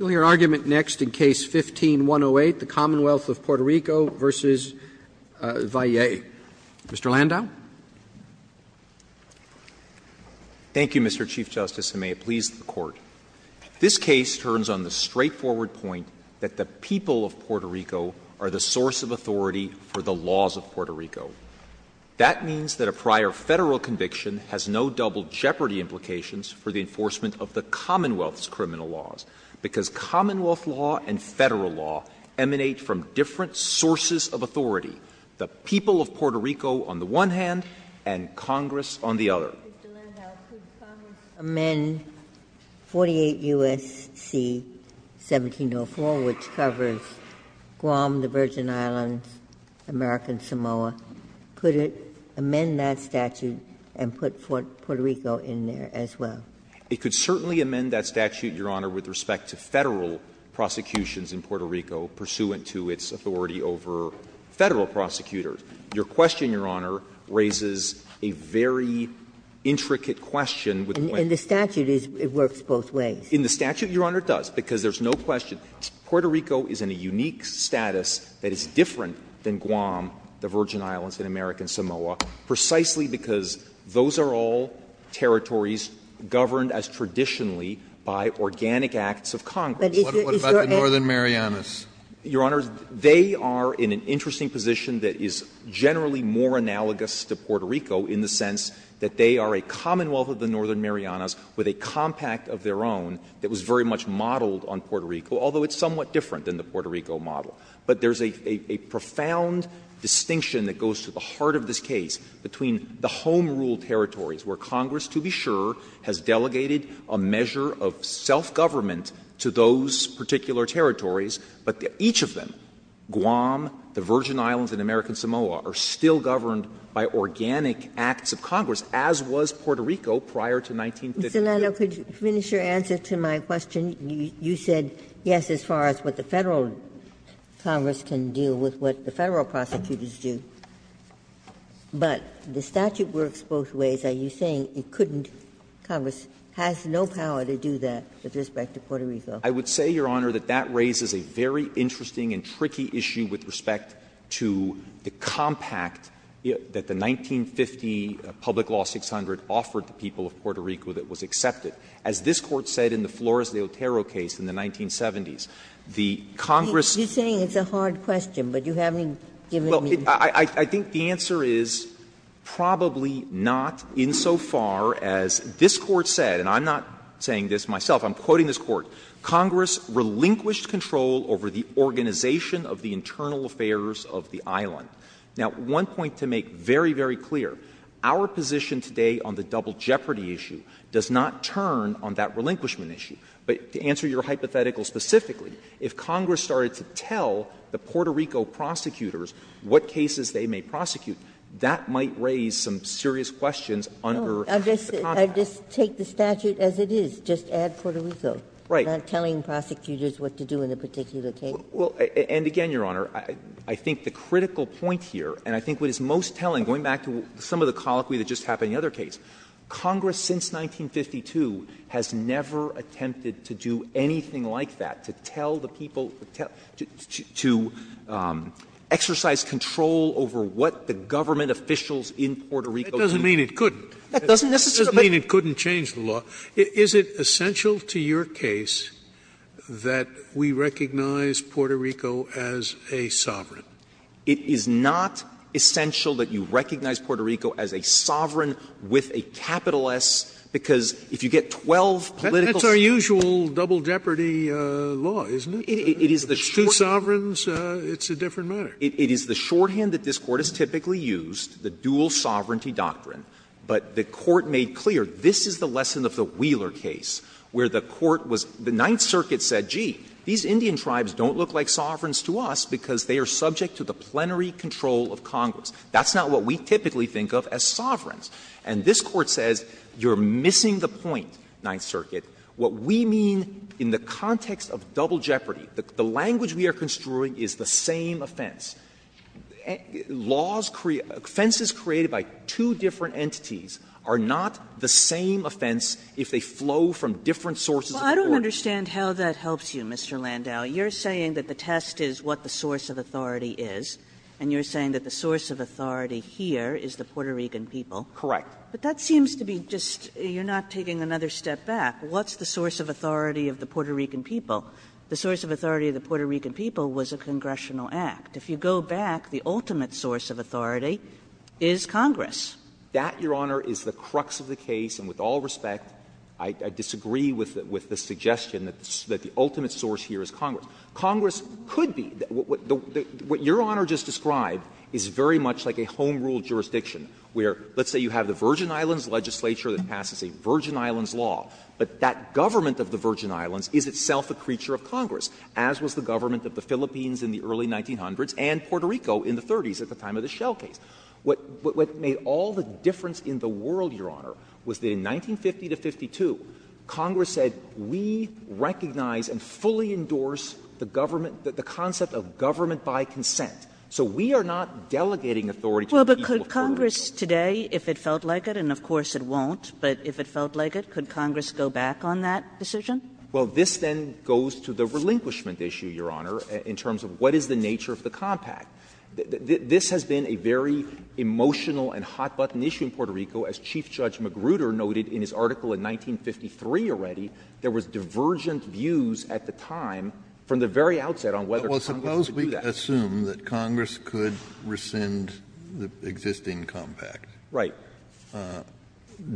Mr. Landau Thank you, Mr. Chief Justice, and may it please the Court. This case turns on the straightforward point that the people of Puerto Rico are the source of authority for the laws of Puerto Rico. That means that a prior Federal conviction has no double jeopardy implications for the enforcement of the Commonwealth's criminal laws, because Commonwealth law and Federal law emanate from different sources of authority — the people of Puerto Rico on the one hand, and Congress on the other. Justice Sotomayor Mr. Landau, could Congress amend 48 U.S.C. 1704, which covers Guam, the Virgin Islands, America, and Samoa? Could it amend that statute and put Puerto Rico in there as well? Landau It could certainly amend that statute, Your Honor, with respect to Federal prosecutions in Puerto Rico pursuant to its authority over Federal prosecutors. Your question, Your Honor, raises a very intricate question with the point that Justice Sotomayor In the statute, it works both ways. Landau In the statute, Your Honor, it does, because there's no question. Puerto Rico is in a unique status that is different than Guam, the Virgin Islands, and America, and Samoa, precisely because those are all territories governed as traditionally by organic acts of Congress. Sotomayor But is there any other? Kennedy What about the Northern Marianas? Landau Your Honor, they are in an interesting position that is generally more analogous to Puerto Rico in the sense that they are a commonwealth of the Northern Marianas with a compact of their own that was very much modeled on Puerto Rico, although it's somewhat different than the Puerto Rico model. But there's a profound distinction that goes to the heart of this case between the home-ruled territories where Congress, to be sure, has delegated a measure of self-government to those particular territories, but each of them, Guam, the Virgin Islands, and America, and Samoa, are still governed by organic acts of Congress, as was Puerto Rico prior to 1915. Ginsburg Mr. Landau, could you finish your answer to my question? You said yes as far as what the Federal Congress can do with what the Federal prosecutors do, but the statute works both ways. Are you saying it couldn't, Congress has no power to do that with respect to Puerto Rico? Landau I would say, Your Honor, that that raises a very interesting and tricky issue with respect to the compact that the 1950 Public Law 600 offered the people of Puerto Rico that was accepted. As this Court said in the Flores de Otero case in the 1970s, the Congress'---- Sotomayor Well, I think the answer is probably not insofar as this Court said, and I'm not saying this myself, I'm quoting this Court, Congress relinquished control over the organization of the internal affairs of the island. Now, one point to make very, very clear, our position today on the double jeopardy issue does not turn on that relinquishment issue. But to answer your hypothetical specifically, if Congress started to tell the Puerto Rico prosecutors what cases they may prosecute, that might raise some serious questions under the compact. Ginsburg I just take the statute as it is, just add Puerto Rico. Landau Right. Ginsburg Not telling prosecutors what to do in a particular case. Landau Well, and again, Your Honor, I think the critical point here, and I think what is most telling, going back to some of the colloquy that just happened in the other case, Congress since 1952 has never attempted to do anything like that, to tell the people, to exercise control over what the government officials in Puerto Rico do. Scalia That doesn't mean it couldn't. Landau That doesn't necessarily. Scalia That doesn't mean it couldn't change the law. Is it essential to your case that we recognize Puerto Rico as a sovereign? Landau It is not essential that you recognize Puerto Rico as a sovereign with a capital S, because if you get 12 political states. Scalia It's a mutual double jeopardy law, isn't it? Landau It is the shorthand. Scalia Two sovereigns, it's a different matter. Landau It is the shorthand that this Court has typically used, the dual sovereignty doctrine. But the Court made clear, this is the lesson of the Wheeler case, where the Court was the Ninth Circuit said, gee, these Indian tribes don't look like sovereigns to us because they are subject to the plenary control of Congress. That's not what we typically think of as sovereigns. And this Court says, you're missing the point, Ninth Circuit. What we mean in the context of double jeopardy, the language we are construing is the same offense. Laws create – offenses created by two different entities are not the same offense if they flow from different sources of authority. Kagan Well, I don't understand how that helps you, Mr. Landau. You're saying that the test is what the source of authority is, and you're saying that the source of authority here is the Puerto Rican people. Landau Correct. Kagan But that seems to be just – you're not taking another step back. What's the source of authority of the Puerto Rican people? The source of authority of the Puerto Rican people was a congressional act. If you go back, the ultimate source of authority is Congress. Landau That, Your Honor, is the crux of the case, and with all respect, I disagree with the suggestion that the ultimate source here is Congress. Congress could be – what Your Honor just described is very much like a home-ruled jurisdiction, where let's say you have the Virgin Islands Legislature that passes a Virgin Islands law, but that government of the Virgin Islands is itself a creature of Congress, as was the government of the Philippines in the early 1900s and Puerto Rico in the 30s at the time of the Shell case. What made all the difference in the world, Your Honor, was that in 1950 to 1952, Congress said we recognize and fully endorse the government – the concept of government by consent. So we are not delegating authority to the people of Puerto Rico. Kagan But would Congress today, if it felt like it, and of course it won't, but if it felt like it, could Congress go back on that decision? Landau Well, this then goes to the relinquishment issue, Your Honor, in terms of what is the nature of the compact. This has been a very emotional and hot-button issue in Puerto Rico. As Chief Judge Magruder noted in his article in 1953 already, there was divergent views at the time from the very outset on whether Congress could do that. Well, if you lose the existing compact,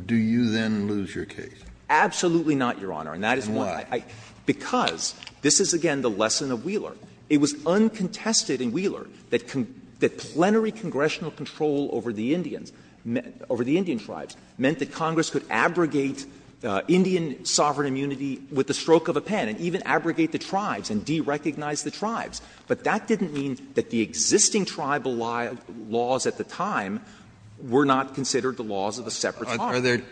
do you then lose your case? Landau Absolutely not, Your Honor. And that is why. Kennedy And why? Landau Because this is, again, the lesson of Wheeler. It was uncontested in Wheeler that plenary congressional control over the Indians – over the Indian tribes meant that Congress could abrogate Indian sovereign immunity with the stroke of a pen and even abrogate the tribes and derecognize the tribes. But that didn't mean that the existing tribal laws at the time were not considered the laws of a separate tribe. Kennedy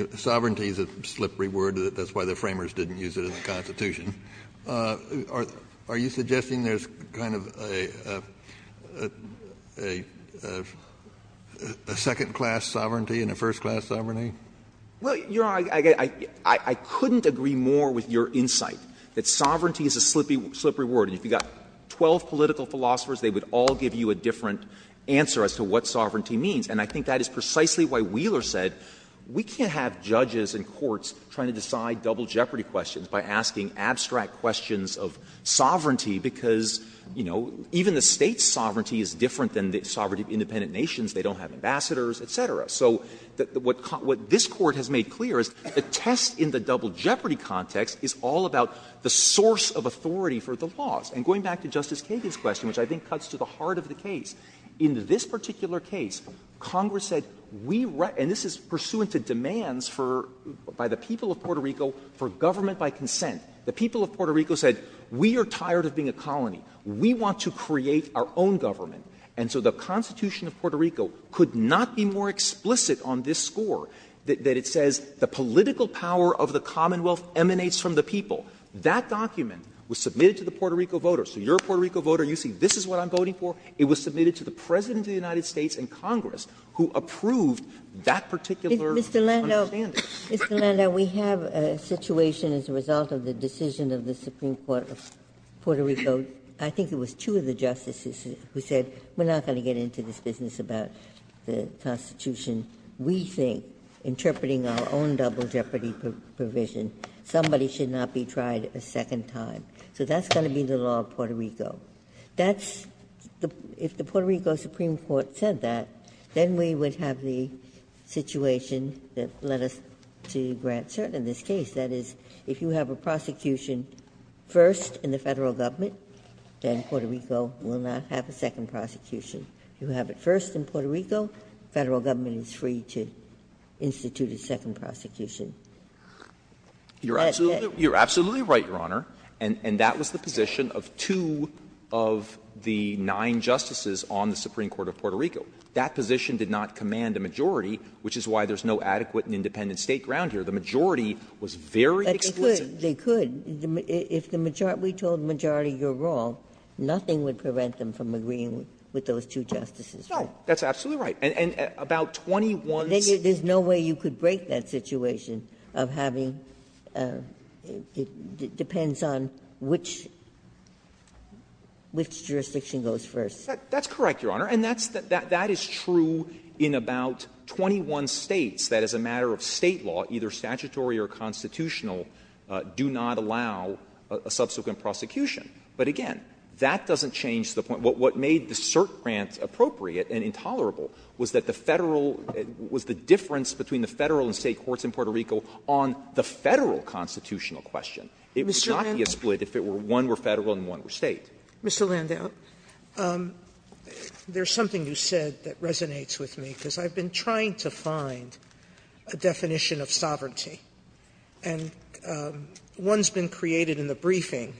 Are there – sovereignty is a slippery word. That's why the Framers didn't use it in the Constitution. Are you suggesting there's kind of a second-class sovereignty and a first-class sovereignty? Landau Well, Your Honor, I couldn't agree more with your insight that sovereignty is a slippery word. And if you've got 12 political philosophers, they would all give you a different answer as to what sovereignty means. And I think that is precisely why Wheeler said we can't have judges and courts trying to decide double jeopardy questions by asking abstract questions of sovereignty, because, you know, even the State's sovereignty is different than the sovereignty of independent nations. They don't have ambassadors, et cetera. So what this Court has made clear is the test in the double jeopardy context is all about the source of authority for the laws. And going back to Justice Kagan's question, which I think cuts to the heart of the case, in this particular case, Congress said we – and this is pursuant to demands for – by the people of Puerto Rico for government by consent. The people of Puerto Rico said we are tired of being a colony. We want to create our own government. And so the Constitution of Puerto Rico could not be more explicit on this score that it says the political power of the commonwealth emanates from the people. That document was submitted to the Puerto Rico voters. So you are a Puerto Rico voter. You see this is what I'm voting for. It was submitted to the President of the United States and Congress, who approved that particular understanding. Ginsburg. Mr. Landau, Mr. Landau, we have a situation as a result of the decision of the Supreme Court of Puerto Rico. I think it was two of the justices who said we are not going to get into this business about the Constitution. We think, interpreting our own double jeopardy provision, somebody should not be tried a second time. So that's going to be the law of Puerto Rico. That's – if the Puerto Rico Supreme Court said that, then we would have the situation that led us to grant cert in this case. That is, if you have a prosecution first in the federal government, then Puerto Rico will not have a second prosecution. You have it first in Puerto Rico, federal government is free to institute a second That's it. You are absolutely right, Your Honor. And that was the position of two of the nine justices on the Supreme Court of Puerto Rico. That position did not command a majority, which is why there is no adequate and independent state ground here. The majority was very explicit. But they could. They could. If the majority – we told the majority you are wrong, nothing would prevent them from agreeing with those two justices. No. That's absolutely right. And about 21 states – There's no way you could break that situation of having – it depends on which jurisdiction goes first. That's correct, Your Honor. And that is true in about 21 states that as a matter of State law, either statutory or constitutional, do not allow a subsequent prosecution. But again, that doesn't change the point. What made the cert grant appropriate and intolerable was that the Federal – was the difference between the Federal and State courts in Puerto Rico on the Federal constitutional question. It would not be a split if one were Federal and one were State. Mr. Landau, there is something you said that resonates with me, because I have been trying to find a definition of sovereignty. And one has been created in the briefing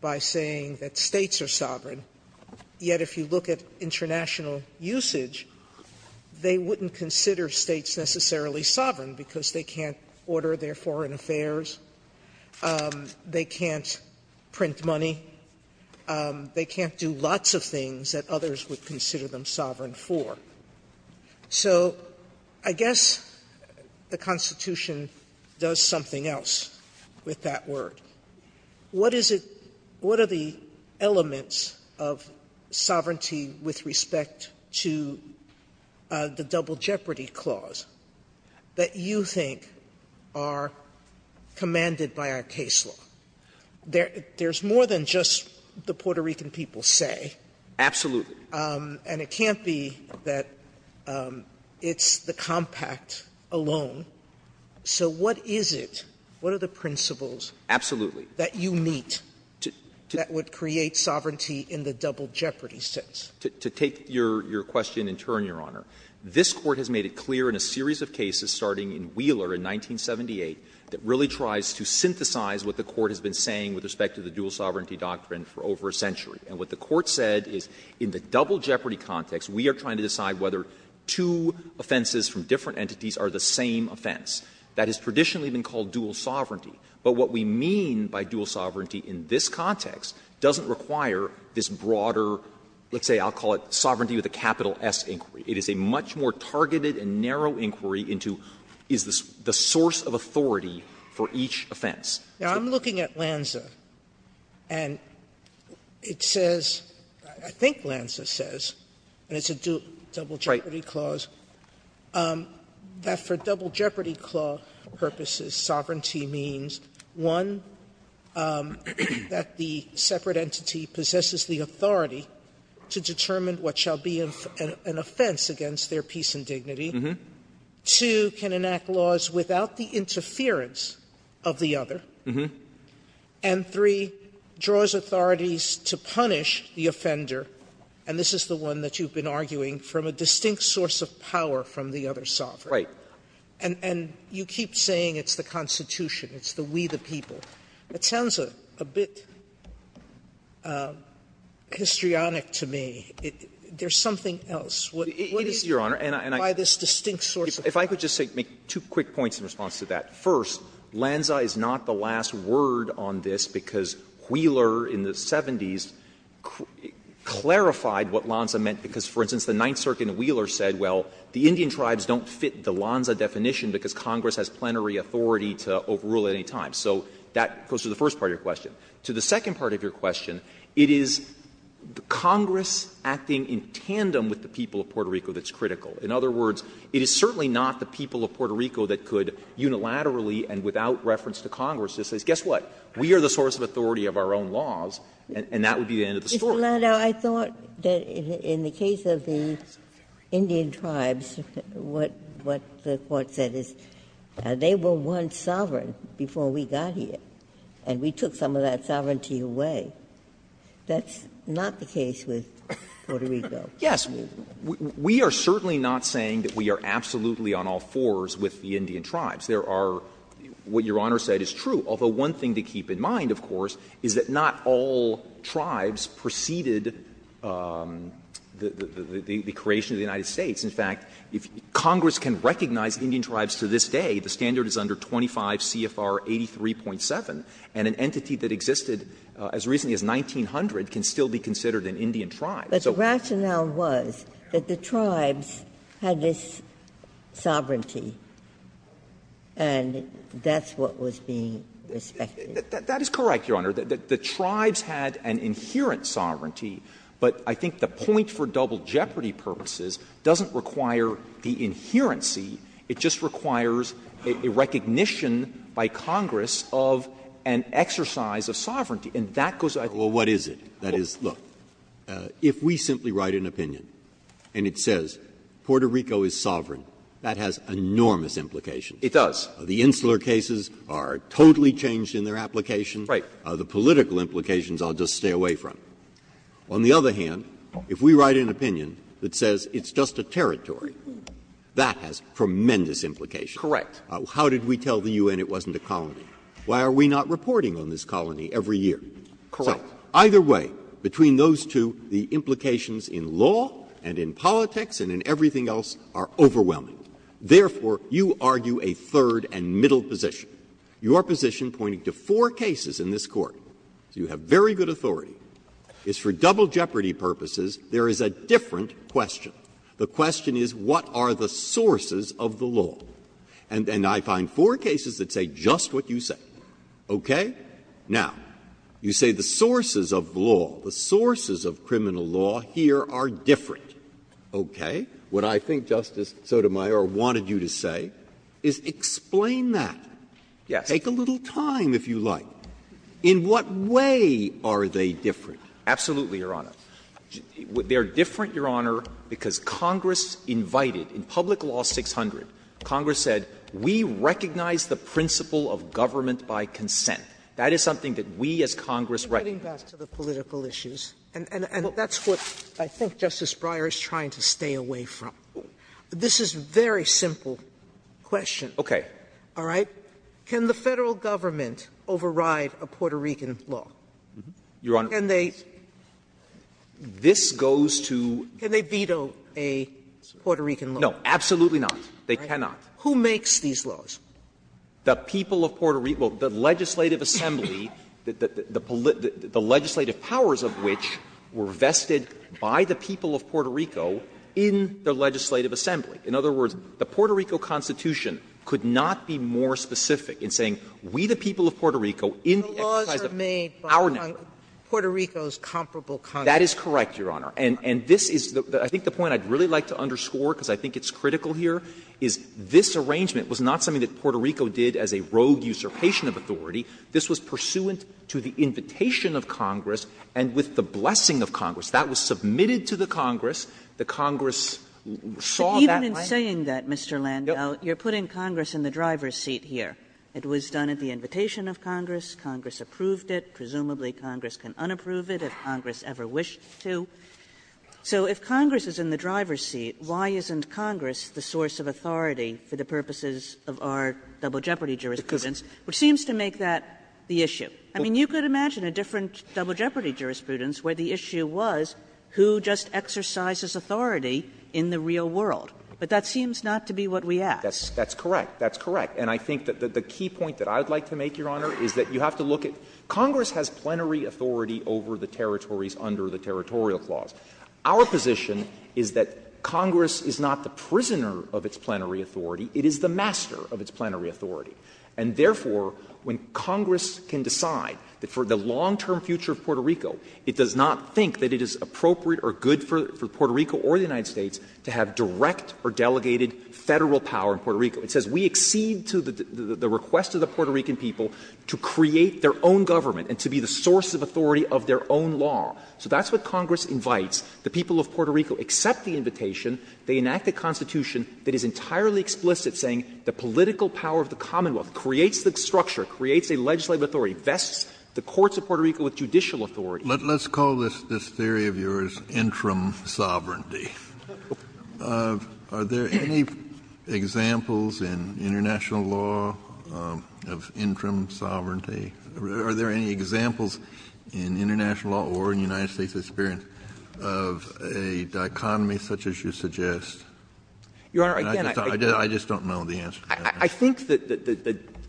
by saying that States are sovereign. Yet if you look at international usage, they wouldn't consider States necessarily sovereign, because they can't order their foreign affairs, they can't print money, they can't do lots of things that others would consider them sovereign for. So I guess the Constitution does something else with that word. What is it – what are the elements of sovereignty with respect to the Double Jeopardy Clause that you think are commanded by our case law? There's more than just the Puerto Rican people say. Absolutely. And it can't be that it's the compact alone. So what is it? What are the principles that you meet that would create sovereignty in the Double Jeopardy sense? To take your question in turn, Your Honor, this Court has made it clear in a series of cases, starting in Wheeler in 1978, that really tries to synthesize what the Court has been saying with respect to the dual sovereignty doctrine for over a century. And what the Court said is in the Double Jeopardy context, we are trying to decide whether two offenses from different entities are the same offense. That has traditionally been called dual sovereignty. But what we mean by dual sovereignty in this context doesn't require this broader – let's say I'll call it Sovereignty with a capital S inquiry. It is a much more targeted and narrow inquiry into is the source of authority for each offense. Now, I'm looking at Lanza, and it says – I think Lanza says, and it's a dual Double Jeopardy clause, that for Double Jeopardy clause purposes, sovereignty means, one, that the separate entity possesses the authority to determine what shall be an offense against their peace and dignity. Two, can enact laws without the interference of the other. And three, draws authorities to punish the offender, and this is the one that you've been arguing, from a distinct source of power from the other sovereign. And you keep saying it's the Constitution, it's the we, the people. It sounds a bit histrionic to me. There's something else. What is it? By this distinct source of power. If I could just make two quick points in response to that. First, Lanza is not the last word on this, because Wheeler, in the 70s, clarified what Lanza meant, because, for instance, the Ninth Circuit in Wheeler said, well, the Indian tribes don't fit the Lanza definition because Congress has plenary authority to overrule at any time. So that goes to the first part of your question. To the second part of your question, it is Congress acting in tandem with the people of Puerto Rico that's critical. In other words, it is certainly not the people of Puerto Rico that could unilaterally and without reference to Congress just say, guess what, we are the source of authority of our own laws, and that would be the end of the story. Ginsburg. I thought that in the case of the Indian tribes, what the Court said is they were one sovereign before we got here, and we took some of that sovereignty away. That's not the case with Puerto Rico. Yes. We are certainly not saying that we are absolutely on all fours with the Indian tribes. There are what Your Honor said is true, although one thing to keep in mind, of course, is that not all tribes preceded the creation of the United States. In fact, if Congress can recognize Indian tribes to this day, the standard is under 25 CFR 83.7, and an entity that existed as recently as 1900 can still be considered an Indian tribe. But the rationale was that the tribes had this sovereignty, and that's what was being respected. That is correct, Your Honor. The tribes had an inherent sovereignty, but I think the point for double jeopardy purposes doesn't require the inherency. It just requires a recognition by Congress of an exercise of sovereignty, and that goes back to what is it? That is, look, if we simply write an opinion and it says Puerto Rico is sovereign, that has enormous implications. It does. The insular cases are totally changed in their application. Right. The political implications I'll just stay away from. On the other hand, if we write an opinion that says it's just a territory, that has tremendous implications. Correct. How did we tell the U.N. it wasn't a colony? Why are we not reporting on this colony every year? Correct. Either way, between those two, the implications in law and in politics and in everything else are overwhelming. Therefore, you argue a third and middle position. Your position, pointing to four cases in this Court, so you have very good authority, is for double jeopardy purposes there is a different question. The question is what are the sources of the law? And I find four cases that say just what you say. Okay? Now, you say the sources of law, the sources of criminal law here are different. Okay. What I think Justice Sotomayor wanted you to say is explain that. Yes. Take a little time, if you like. In what way are they different? Absolutely, Your Honor. They are different, Your Honor, because Congress invited, in Public Law 600, Congress said we recognize the principle of government by consent. That is something that we as Congress recognize. Sotomayor, I'm getting back to the political issues, and that's what I think Justice Breyer is trying to stay away from. This is a very simple question. Okay. All right? Can the Federal Government override a Puerto Rican law? Your Honor, this goes to the Federal Government. Can they veto a Puerto Rican law? No, absolutely not. They cannot. Who makes these laws? The people of Puerto Rico, the legislative assembly, the legislative powers of which were vested by the people of Puerto Rico in the legislative assembly. In other words, the Puerto Rico Constitution could not be more specific in saying we, the people of Puerto Rico, in the exercise of our nature. The laws are made by Puerto Rico's comparable countries. That is correct, Your Honor. And this is the point I'd really like to underscore, because I think it's critical here, is this arrangement was not something that Puerto Rico did as a rogue usurpation of authority. This was pursuant to the invitation of Congress and with the blessing of Congress. That was submitted to the Congress. The Congress saw that way. But even in saying that, Mr. Landau, you're putting Congress in the driver's seat here. It was done at the invitation of Congress. Congress approved it. Presumably Congress can unapprove it if Congress ever wished to. So if Congress is in the driver's seat, why isn't Congress the source of authority for the purposes of our double jeopardy jurisprudence, which seems to make that the issue? I mean, you could imagine a different double jeopardy jurisprudence where the issue was who just exercises authority in the real world. But that seems not to be what we ask. That's correct. That's correct. And I think that the key point that I would like to make, Your Honor, is that you have to look at Congress has plenary authority over the territories under the territorial clause. Our position is that Congress is not the prisoner of its plenary authority. It is the master of its plenary authority. And therefore, when Congress can decide that for the long-term future of Puerto Rico, it does not think that it is appropriate or good for Puerto Rico or the United States to have direct or delegated Federal power in Puerto Rico. It says we accede to the request of the Puerto Rican people to create their own government and to be the source of authority of their own law. So that's what Congress invites. The people of Puerto Rico accept the invitation. They enact a constitution that is entirely explicit, saying the political power of the Commonwealth creates the structure, creates a legislative authority, vests the courts of Puerto Rico with judicial authority. Kennedy, let's call this theory of yours interim sovereignty. Are there any examples in international law of interim sovereignty? Are there any examples in international law or in the United States' experience of a dichotomy such as you suggest? I just don't know the answer to that. I think that,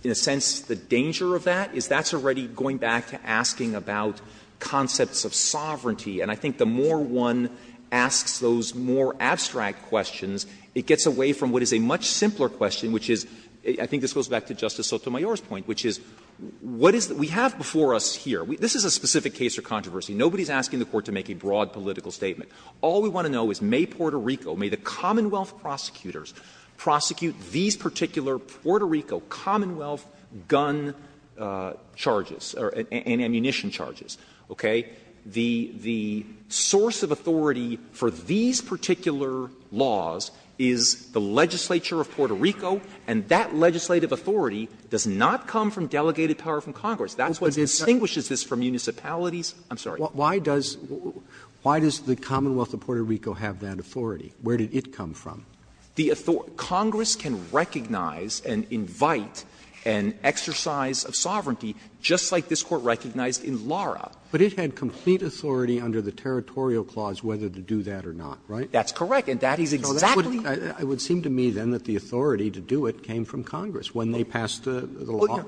in a sense, the danger of that is that's already going back to asking about concepts of sovereignty. And I think the more one asks those more abstract questions, it gets away from what is a much simpler question, which is — I think this goes back to Justice Sotomayor's question, which is what is — we have before us here, this is a specific case or controversy. Nobody is asking the Court to make a broad political statement. All we want to know is may Puerto Rico, may the Commonwealth prosecutors prosecute these particular Puerto Rico Commonwealth gun charges and ammunition charges, okay? The source of authority for these particular laws is the legislature of Puerto Rico. The legislature of Puerto Rico has delegated power from Congress. That's what distinguishes this from municipalities. I'm sorry. Roberts, why does the Commonwealth of Puerto Rico have that authority? Where did it come from? Congress can recognize and invite an exercise of sovereignty, just like this Court recognized in Lara. But it had complete authority under the Territorial Clause whether to do that or not, right? That's correct. And that is exactly the case. It's not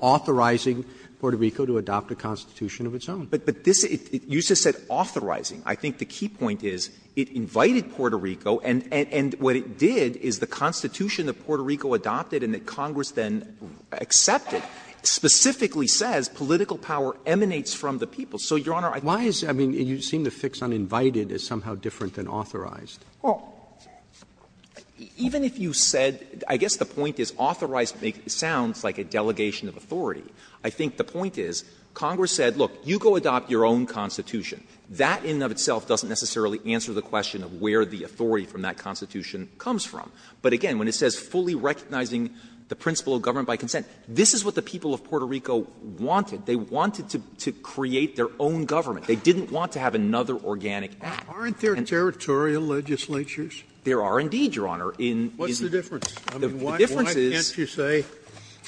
authorizing Puerto Rico to adopt a constitution of its own. But this — you just said authorizing. I think the key point is it invited Puerto Rico, and what it did is the constitution that Puerto Rico adopted and that Congress then accepted specifically says political power emanates from the people. So, Your Honor, I think that's the point. Why is — I mean, you seem to fix on invited as somehow different than authorized. Well, even if you said — I guess the point is authorized sounds like a delegation of authority. I think the point is Congress said, look, you go adopt your own constitution. That in and of itself doesn't necessarily answer the question of where the authority from that constitution comes from. But again, when it says fully recognizing the principle of government by consent, this is what the people of Puerto Rico wanted. They wanted to create their own government. They didn't want to have another organic act. Aren't there territorial legislatures? There are indeed, Your Honor. What's the difference? I mean, why can't you say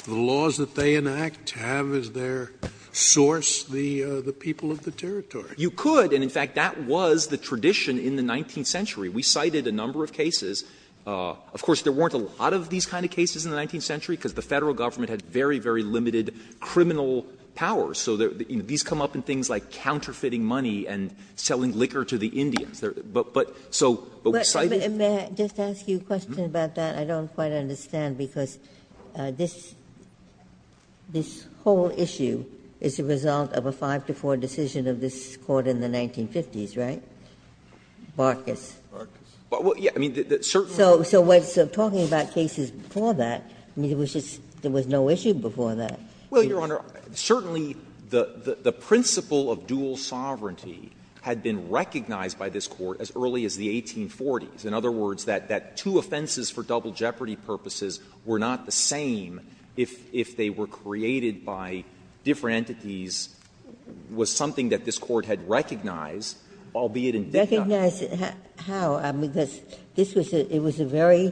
the laws that they enact have as their source the people of the territory? You could, and in fact, that was the tradition in the 19th century. We cited a number of cases. Of course, there weren't a lot of these kind of cases in the 19th century because the Federal government had very, very limited criminal powers. So these come up in things like counterfeiting money and selling liquor to the Indians. But so we cited them. May I just ask you a question about that? I don't quite understand, because this whole issue is the result of a 5-4 decision of this Court in the 1950s, right? Barkas. So talking about cases before that, there was no issue before that. Well, Your Honor, certainly the principle of dual sovereignty had been recognized by this Court as early as the 1840s. In other words, that two offenses for double jeopardy purposes were not the same if they were created by different entities was something that this Court had recognized, albeit in dignity. Recognized how? I mean, because this was a very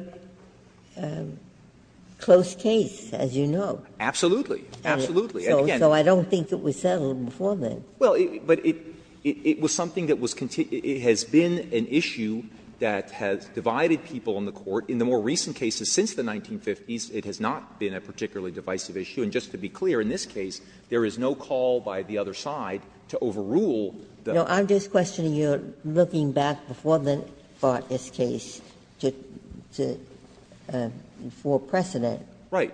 close case, as you know. Absolutely. Absolutely. So I don't think it was settled before then. Well, but it was something that was continued to be an issue that has divided people in the Court. In the more recent cases since the 1950s, it has not been a particularly divisive issue. And just to be clear, in this case, there is no call by the other side to overrule the Court. No, I'm just questioning you're looking back before the Barkas case to foreprecedent. Right.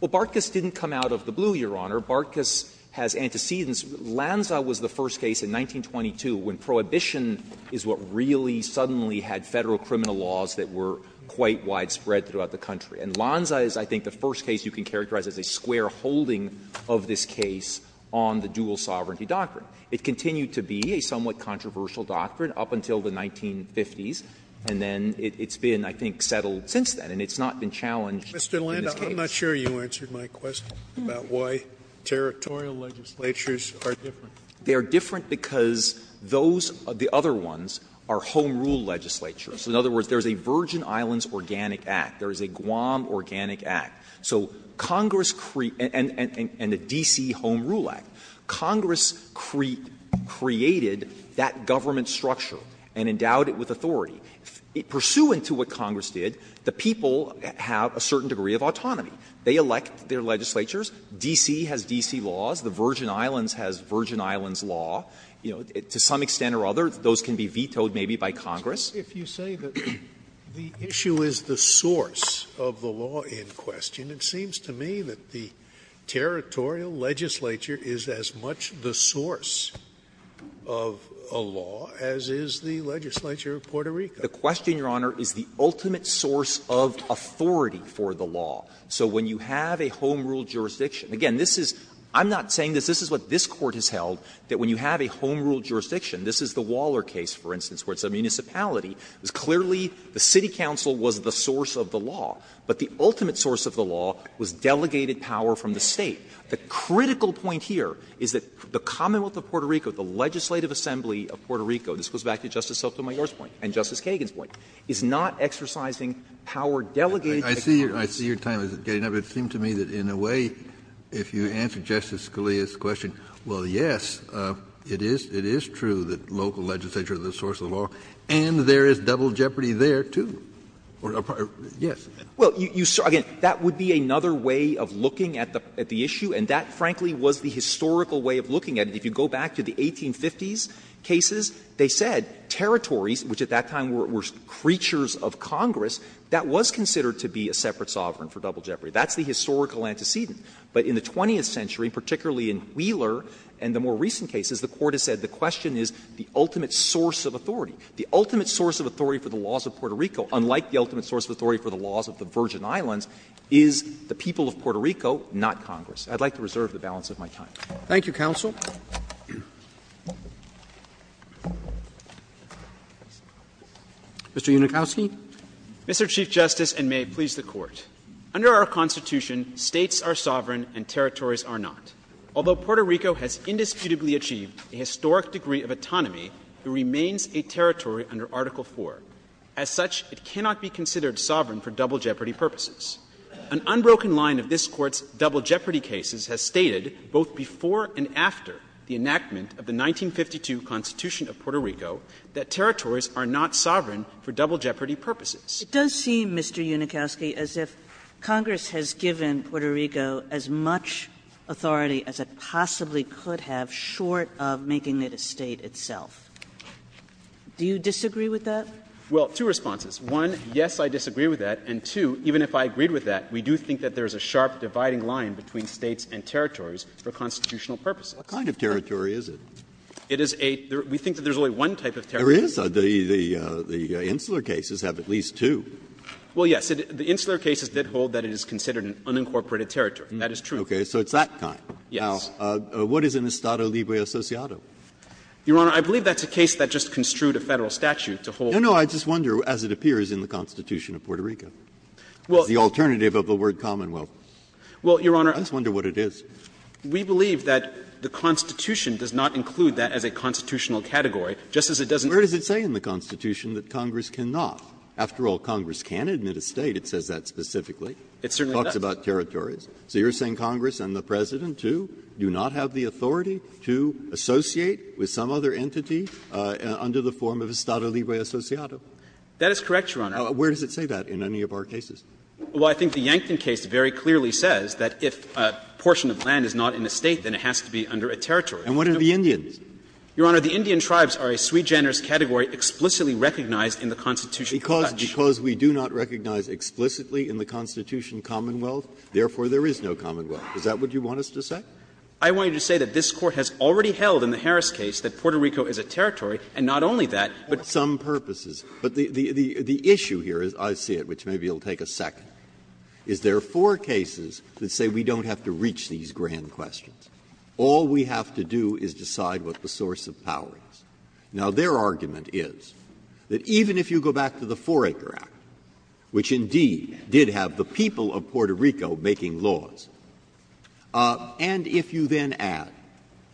Well, Barkas didn't come out of the blue, Your Honor. Barkas has antecedents. Lanza was the first case in 1922 when prohibition is what really suddenly had Federal criminal laws that were quite widespread throughout the country. And Lanza is, I think, the first case you can characterize as a square holding of this case on the dual sovereignty doctrine. It continued to be a somewhat controversial doctrine up until the 1950s, and then it's been, I think, settled since then. And it's not been challenged in this case. Scalia, I'm not sure you answered my question about why territorial legislatures are different. They are different because those, the other ones, are home rule legislatures. In other words, there is a Virgin Islands Organic Act. There is a Guam Organic Act. So Congress created and a D.C. Home Rule Act. Congress created that government structure and endowed it with authority. Pursuant to what Congress did, the people have a certain degree of autonomy. They elect their legislatures. D.C. has D.C. laws. The Virgin Islands has Virgin Islands law. You know, to some extent or other, those can be vetoed maybe by Congress. Scalia, if you say that the issue is the source of the law in question, it seems to me that the territorial legislature is as much the source of a law as is the legislature of Puerto Rico. The question, Your Honor, is the ultimate source of authority for the law. So when you have a home rule jurisdiction, again, this is — I'm not saying this. This is what this Court has held, that when you have a home rule jurisdiction — this is the Waller case, for instance, where it's a municipality — it's clearly the city council was the source of the law. But the ultimate source of the law was delegated power from the State. The critical point here is that the Commonwealth of Puerto Rico, the legislative assembly of Puerto Rico — this goes back to Justice Sotomayor's point and Justice Kagan's point — is not exercising power delegated to Congress. Kennedy. I see your time is getting up. It seems to me that in a way, if you answer Justice Scalia's question, well, yes, it is true that local legislature is the source of the law, and there is double jeopardy there, too. Yes. Well, you — again, that would be another way of looking at the issue, and that, frankly, was the historical way of looking at it. If you go back to the 1850s cases, they said territories, which at that time were creatures of Congress, that was considered to be a separate sovereign for double jeopardy. That's the historical antecedent. But in the 20th century, particularly in Wheeler and the more recent cases, the Court has said the question is the ultimate source of authority. The ultimate source of authority for the laws of Puerto Rico, unlike the ultimate source of authority for the laws of the Virgin Islands, is the people of Puerto Rico, not Congress. I'd like to reserve the balance of my time. Roberts. Thank you, counsel. Mr. Unikowsky. Mr. Chief Justice, and may it please the Court. Under our Constitution, States are sovereign and territories are not. Although Puerto Rico has indisputably achieved a historic degree of autonomy, it remains a territory under Article IV. As such, it cannot be considered sovereign for double jeopardy purposes. An unbroken line of this Court's double jeopardy cases has stated, both before and after the enactment of the 1952 Constitution of Puerto Rico, that territories are not sovereign for double jeopardy purposes. It does seem, Mr. Unikowsky, as if Congress has given Puerto Rico as much authority as it possibly could have, short of making it a State itself. Do you disagree with that? Well, two responses. One, yes, I disagree with that, and two, even if I agreed with that, we do think that there is a sharp dividing line between States and territories for constitutional purposes. What kind of territory is it? It is a — we think that there is only one type of territory. There is. The Insular Cases have at least two. Well, yes. The Insular Cases did hold that it is considered an unincorporated territory. That is true. Okay. So it's that kind. Yes. Now, what is an Estado Libre Associado? Your Honor, I believe that's a case that just construed a Federal statute to hold No, no. I just wonder, as it appears in the Constitution of Puerto Rico, as the alternative of the word Commonwealth. Well, Your Honor, we believe that the Constitution does not include that as a constitutional category, just as it doesn't. Where does it say in the Constitution that Congress cannot? After all, Congress can't admit a State. It says that specifically. It certainly does. It talks about territories. So you are saying Congress and the President, too, do not have the authority to associate with some other entity under the form of Estado Libre Associado? That is correct, Your Honor. Where does it say that in any of our cases? Well, I think the Yankton case very clearly says that if a portion of land is not in a State, then it has to be under a territory. And what are the Indians? Your Honor, the Indian tribes are a sui generis category explicitly recognized in the Constitutional Dutch. Because we do not recognize explicitly in the Constitution Commonwealth, therefore there is no Commonwealth. Is that what you want us to say? I want you to say that this Court has already held in the Harris case that Puerto Rico is a territory, and not only that, but some purposes. But the issue here is, I see it, which maybe it will take a second, is there are four cases that say we don't have to reach these grand questions. All we have to do is decide what the source of power is. Now, their argument is that even if you go back to the 4-Acre Act, which indeed did have the people of Puerto Rico making laws, and if you then add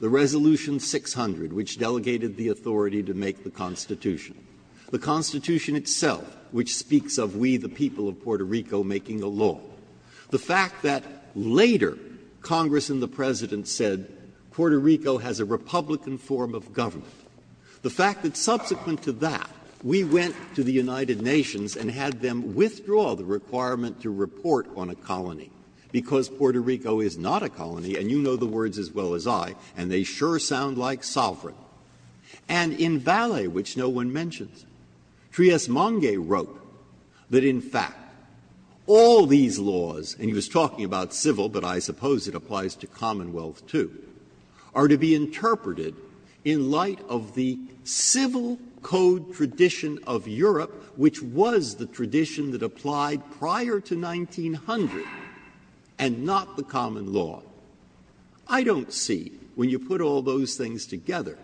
the Resolution 600, which delegated the authority to make the Constitution, the Constitution itself, which speaks of we, the people of Puerto Rico, making a law, the fact that later Congress and the President said Puerto Rico has a Republican form of government, the fact that subsequent to that, we went to the United Nations and had them withdraw the requirement to report on a colony, because Puerto Rico is not a colony, and you know the words as well as I, and they sure sound like sovereign. And in Valle, which no one mentions, Trias Mongay wrote that, in fact, all these laws, and he was talking about civil, but I suppose it applies to Commonwealth as well, too, are to be interpreted in light of the civil code tradition of Europe, which was the tradition that applied prior to 1900 and not the common law. I don't see, when you put all those things together,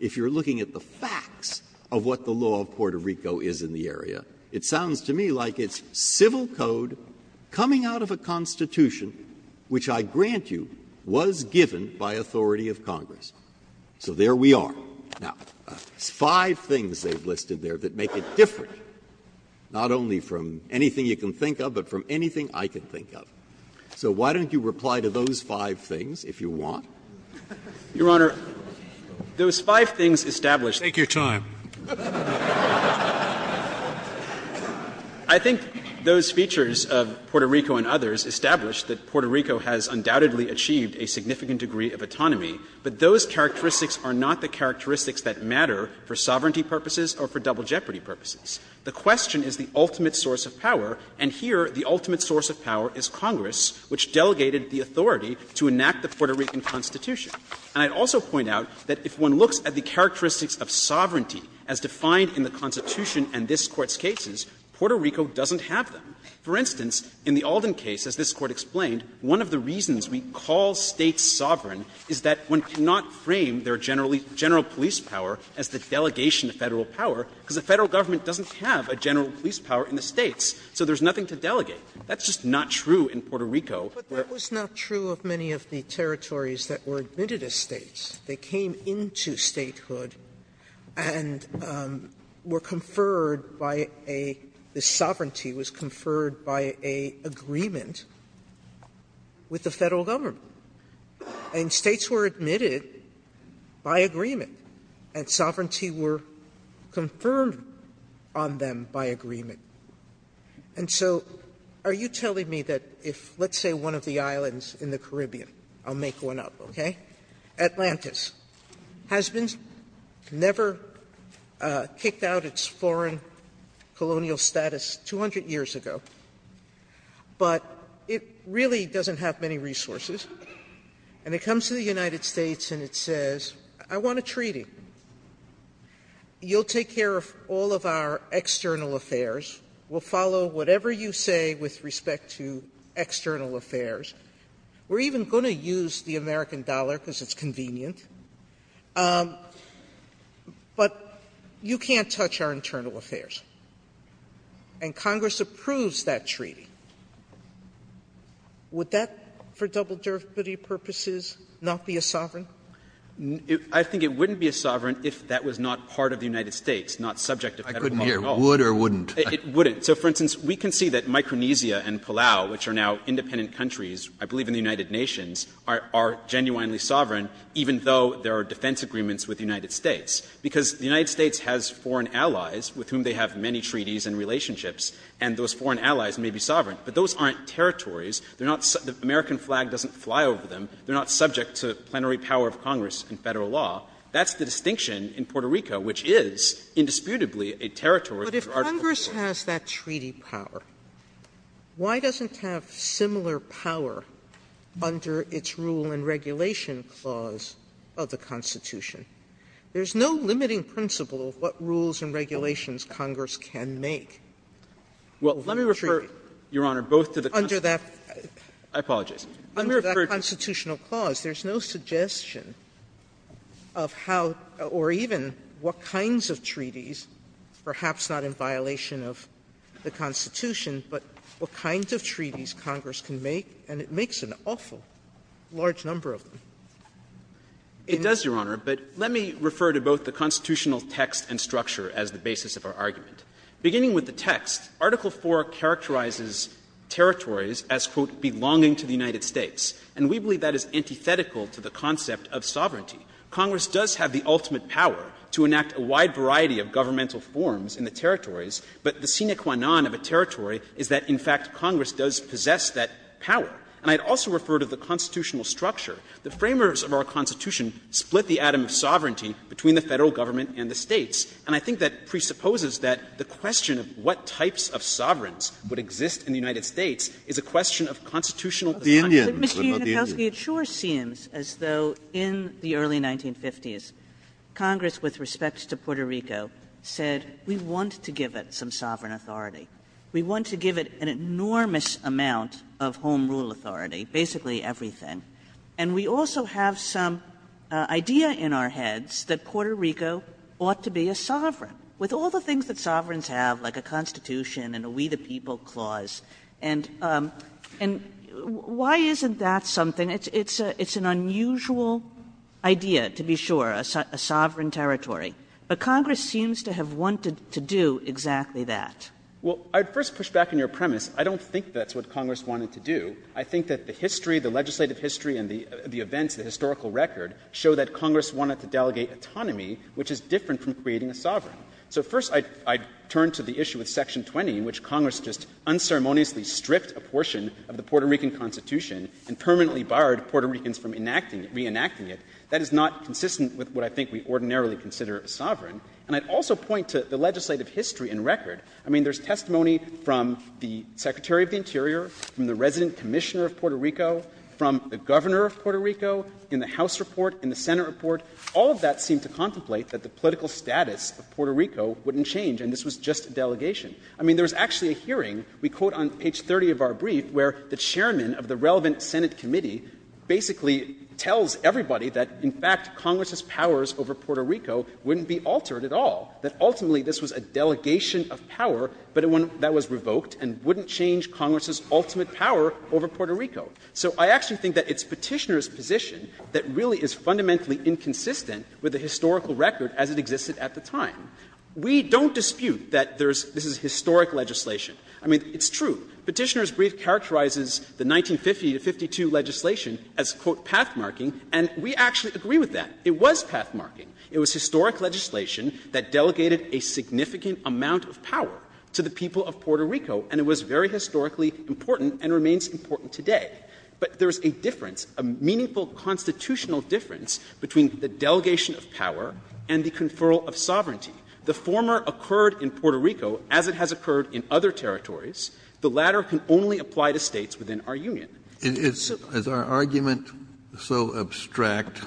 if you're looking at the facts of what the law of Puerto Rico is in the area, it sounds to me like it's civil code coming out of a Constitution which, I grant you, was given by authority of Congress. So there we are. Now, there's five things they've listed there that make it different, not only from anything you can think of, but from anything I can think of. So why don't you reply to those five things, if you want? Fisherman, Your Honor, those five things established Scalia, Take your time. I think those features of Puerto Rico and others establish that Puerto Rico has undoubtedly achieved a significant degree of autonomy, but those characteristics are not the characteristics that matter for sovereignty purposes or for double-jeopardy purposes. The question is the ultimate source of power, and here the ultimate source of power is Congress, which delegated the authority to enact the Puerto Rican Constitution. And I'd also point out that if one looks at the characteristics of sovereignty as defined in the Constitution and this Court's cases, Puerto Rico doesn't have them. For instance, in the Alden case, as this Court explained, one of the reasons we call States sovereign is that one cannot frame their general police power as the delegation of Federal power, because the Federal government doesn't have a general police power in the States, so there's nothing to delegate. That's just not true in Puerto Rico. Sotomayor, but that was not true of many of the territories that were admitted as States. They came into Statehood and were conferred by a – the sovereignty was conferred by an agreement with the Federal government. And States were admitted by agreement, and sovereignty were confirmed on them by agreement. And so are you telling me that if, let's say, one of the islands in the Caribbean – I'll make one up, okay – Atlantis has been never kicked out its foreign colonial status 200 years ago, but it really doesn't have many resources, and it comes to the United States and it says, I want a treaty, you'll take care of all of our external affairs, we'll follow whatever you say with respect to external affairs, we're even going to use the American dollar because it's convenient, but you can't touch our internal affairs, and Congress approves that treaty. Would that, for double-derivative purposes, not be a sovereign? I think it wouldn't be a sovereign if that was not part of the United States, not subject to Federal law. I couldn't hear, would or wouldn't? It wouldn't. So, for instance, we can see that Micronesia and Palau, which are now independent countries, I believe in the United Nations, are genuinely sovereign, even though there are defense agreements with the United States. Because the United States has foreign allies with whom they have many treaties and relationships, and those foreign allies may be sovereign. But those aren't territories. They're not – the American flag doesn't fly over them. They're not subject to plenary power of Congress and Federal law. That's the distinction in Puerto Rico, which is indisputably a territory under Article Sotomayor, but if Congress has that treaty power, why doesn't it have similar power under its rule and regulation clause of the Constitution? There's no limiting principle of what rules and regulations Congress can make. Well, let me refer, Your Honor, both to the Constitutional clause. There's no suggestion of how or even what kinds of treaties, perhaps not in violation of the Constitution, but what kinds of treaties Congress can make, and it makes an awful large number of them. It does, Your Honor, but let me refer to both the constitutional text and structure as the basis of our argument. Beginning with the text, Article IV characterizes territories as, quote, And we believe that is antithetical to the concept of sovereignty. Congress does have the ultimate power to enact a wide variety of governmental forms in the territories, but the sine qua non of a territory is that, in fact, Congress does possess that power. And I'd also refer to the constitutional structure. The framers of our Constitution split the atom of sovereignty between the Federal Government and the States, and I think that presupposes that the question of what Mr. Yanukovsky, it sure seems as though in the early 1950s, Congress, with respect to Puerto Rico, said we want to give it some sovereign authority. We want to give it an enormous amount of home rule authority, basically everything. And we also have some idea in our heads that Puerto Rico ought to be a sovereign. With all the things that sovereigns have, like a Constitution and a We the People Clause, and why isn't that something? It's an unusual idea, to be sure, a sovereign territory. But Congress seems to have wanted to do exactly that. Well, I'd first push back on your premise. I don't think that's what Congress wanted to do. I think that the history, the legislative history and the events, the historical record, show that Congress wanted to delegate autonomy, which is different from creating a sovereign. So first, I'd turn to the issue of Section 20, in which Congress just unceremoniously stripped a portion of the Puerto Rican Constitution and permanently barred Puerto Ricans from enacting it, reenacting it. That is not consistent with what I think we ordinarily consider a sovereign. And I'd also point to the legislative history and record. I mean, there's testimony from the Secretary of the Interior, from the resident commissioner of Puerto Rico, from the governor of Puerto Rico, in the House report, in the Senate report. All of that seemed to contemplate that the political status of Puerto Rico wouldn't change, and this was just a delegation. I mean, there was actually a hearing, we quote on page 30 of our brief, where the chairman of the relevant Senate committee basically tells everybody that, in fact, Congress's powers over Puerto Rico wouldn't be altered at all, that ultimately this was a delegation of power, but one that was revoked and wouldn't change Congress's ultimate power over Puerto Rico. So I actually think that it's Petitioner's position that really is fundamentally inconsistent with the historical record as it existed at the time. We don't dispute that there's this is historic legislation. I mean, it's true. Petitioner's brief characterizes the 1950 to 1952 legislation as, quote, path-marking, and we actually agree with that. It was path-marking. It was historic legislation that delegated a significant amount of power to the people of Puerto Rico, and it was very historically important and remains important today. But there is a difference, a meaningful constitutional difference between the delegation of power and the conferral of sovereignty. The former occurred in Puerto Rico as it has occurred in other territories. The latter can only apply to States within our union. Kennedy, is our argument so abstract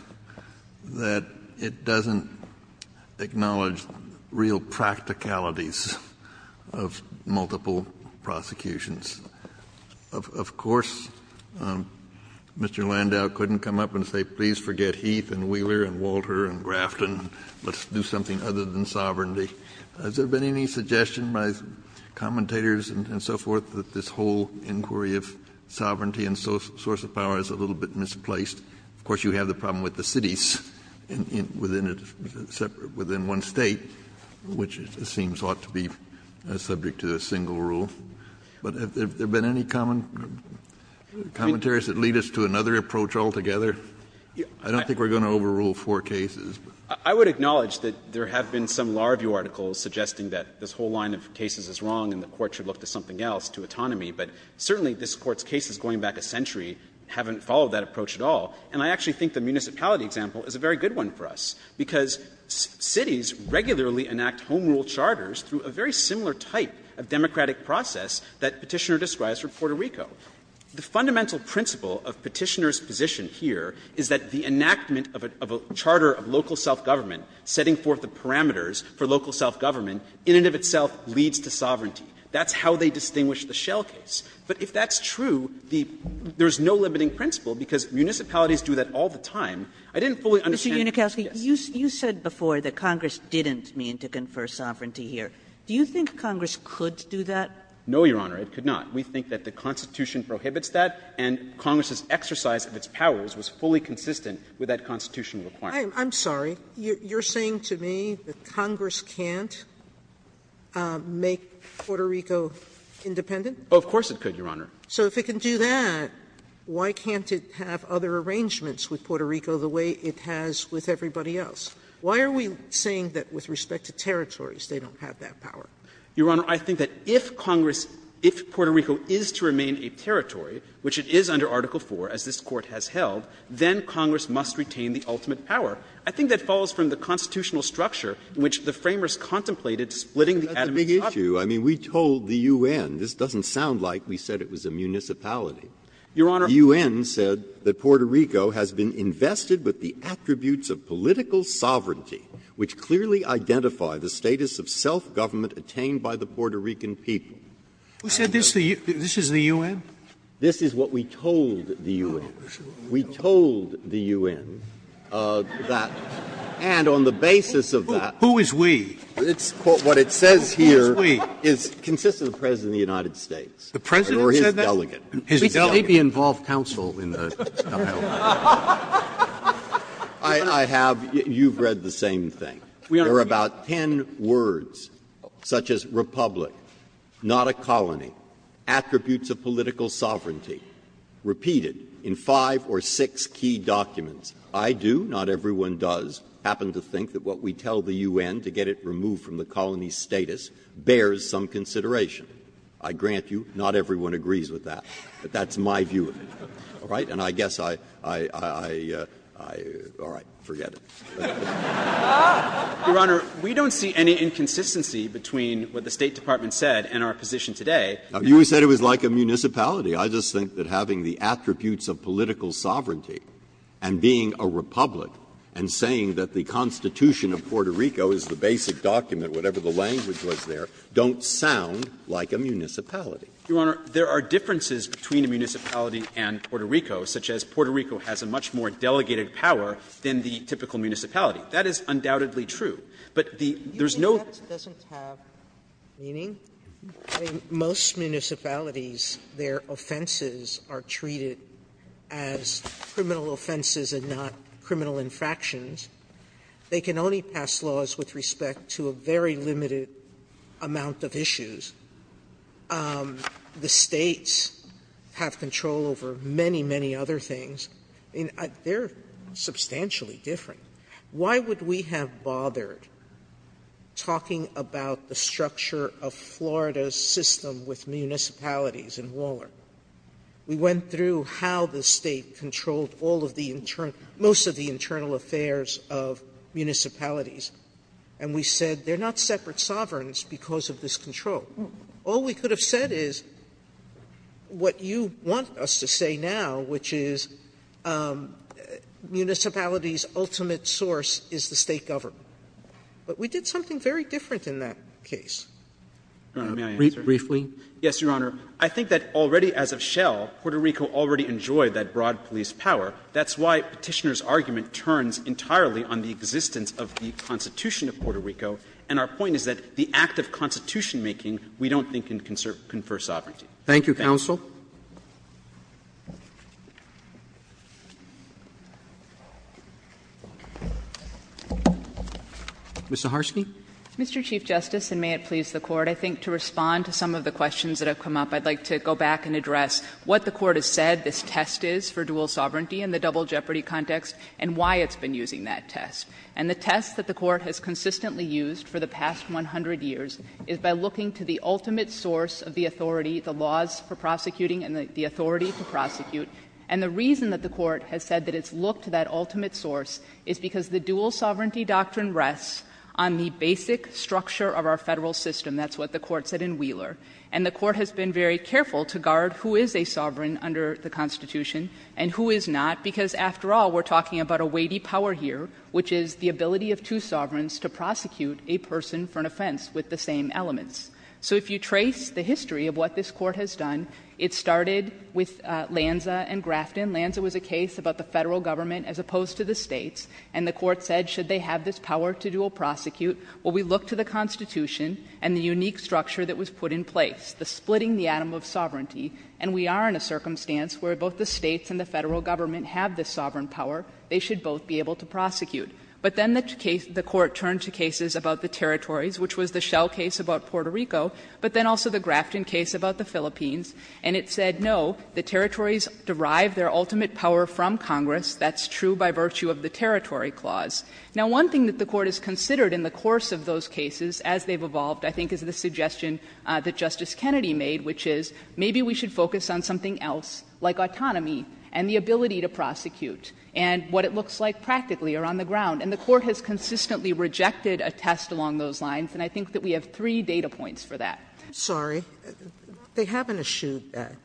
that it doesn't acknowledge real practicalities of multiple prosecutions? Of course, Mr. Landau couldn't come up and say, please forget Heath and Wheeler and Walter and Grafton. Let's do something other than sovereignty. Has there been any suggestion by commentators and so forth that this whole inquiry of sovereignty and source of power is a little bit misplaced? Of course, you have the problem with the cities within a separate one State, which it seems ought to be subject to a single rule. But have there been any common commentaries that lead us to another approach altogether? I don't think we're going to overrule four cases. I would acknowledge that there have been some law review articles suggesting that this whole line of cases is wrong and the Court should look to something else, to autonomy. But certainly this Court's cases going back a century haven't followed that approach at all. And I actually think the municipality example is a very good one for us, because cities regularly enact home rule charters through a very similar type of democratic process that Petitioner describes for Puerto Rico. The fundamental principle of Petitioner's position here is that the enactment of a charter of local self-government, setting forth the parameters for local self-government, in and of itself leads to sovereignty. That's how they distinguish the Shell case. But if that's true, there's no limiting principle, because municipalities do that all the time. I didn't fully understand the case. Kagan. Kagan. Kagan. Kagan. Kagan. Kagan. Kagan. Kagan. Kagan. Kagan. Kagan. Kagan. No, Your Honor, it could not. We think that the Constitution prohibits that, and Congress's exercise of its powers was fully consistent with that Constitutional requirement. Sotomayor. I'm sorry. You're saying to me that Congress can't make Puerto Rico independent? Of course it could, Your Honor. So if it can do that, why can't it have other arrangements with Puerto Rico the way it has with everybody else? Why are we saying that with respect to territories they don't have that power? Your Honor, I think that if Congress, if Puerto Rico is to remain a territory, which it is under Article IV, as this Court has held, then Congress must retain the ultimate power. I think that falls from the Constitutional structure in which the Framers contemplated splitting the Atomic Shots. Breyer. That's a big issue. I mean, we told the U.N. This doesn't sound like we said it was a municipality. Your Honor. The U.N. said that Puerto Rico has been invested with the attributes of political sovereignty, which clearly identify the status of self-government attained by the Puerto Rican people. We said this is the U.N.? This is what we told the U.N. We told the U.N. that, and on the basis of that. Who is we? It's what it says here is it consists of the President of the United States. The President said that? Or his delegate. His delegate. He may be involved counsel in the stuff. I have you've read the same thing. There are about ten words such as republic, not a colony, attributes of political sovereignty, repeated in five or six key documents. I do, not everyone does, happen to think that what we tell the U.N. to get it removed from the colony's status bears some consideration. I grant you not everyone agrees with that. But that's my view of it. All right? And I guess I, I, I, I, I, all right, forget it. Roberts, we don't see any inconsistency between what the State Department said and our position today. You said it was like a municipality. I just think that having the attributes of political sovereignty and being a republic and saying that the Constitution of Puerto Rico is the basic document, whatever the language was there, don't sound like a municipality. Your Honor, there are differences between a municipality and Puerto Rico, such as Puerto Rico has a much more delegated power than the typical municipality. That is undoubtedly true. But the, there's no. Sotomayor, that doesn't have meaning. In most municipalities, their offenses are treated as criminal offenses and not criminal infractions. They can only pass laws with respect to a very limited amount of issues. The States have control over many, many other things. They're substantially different. Why would we have bothered talking about the structure of Florida's system with municipalities in Waller? We went through how the State controlled all of the internal, most of the internal affairs of municipalities, and we said they're not separate sovereigns because of this control. All we could have said is what you want us to say now, which is municipalities' ultimate source is the State government. But we did something very different in that case. May I answer? Roberts, briefly? Yes, Your Honor. I think that already as of Shell, Puerto Rico already enjoyed that broad police power. That's why Petitioner's argument turns entirely on the existence of the Constitution of Puerto Rico. And our point is that the act of Constitution-making we don't think can confer sovereignty. Thank you. Roberts, thank you. Roberts, thank you. Mr. Harsky. Mr. Chief Justice, and may it please the Court, I think to respond to some of the questions that have come up, I'd like to go back and address what the Court has said this test is for dual sovereignty in the double jeopardy context and why it's been using that test. And the test that the Court has consistently used for the past 100 years is by looking to the ultimate source of the authority, the laws for prosecuting and the authority to prosecute. And the reason that the Court has said that it's looked to that ultimate source is because the dual sovereignty doctrine rests on the basic structure of our Federal system. That's what the Court said in Wheeler. And the Court has been very careful to guard who is a sovereign under the Constitution and who is not, because after all, we're talking about a weighty power here, which is the ability of two sovereigns to prosecute a person for an offense with the same elements. So if you trace the history of what this Court has done, it started with Lanza and Grafton. Lanza was a case about the Federal Government as opposed to the States, and the Court said should they have this power to dual prosecute, well, we look to the Constitution and the unique structure that was put in place, the splitting the atom of sovereignty. And we are in a circumstance where both the States and the Federal Government have this sovereign power. They should both be able to prosecute. But then the case the Court turned to cases about the territories, which was the Shell case about Puerto Rico, but then also the Grafton case about the Philippines, and it said no, the territories derive their ultimate power from Congress. That's true by virtue of the territory clause. Now, one thing that the Court has considered in the course of those cases as they've evolved, I think, is the suggestion that Justice Kennedy made, which is maybe we should focus on something else like autonomy and the ability to prosecute. And what it looks like practically are on the ground. And the Court has consistently rejected a test along those lines, and I think that we have three data points for that. Sotomayor, they haven't eschewed that.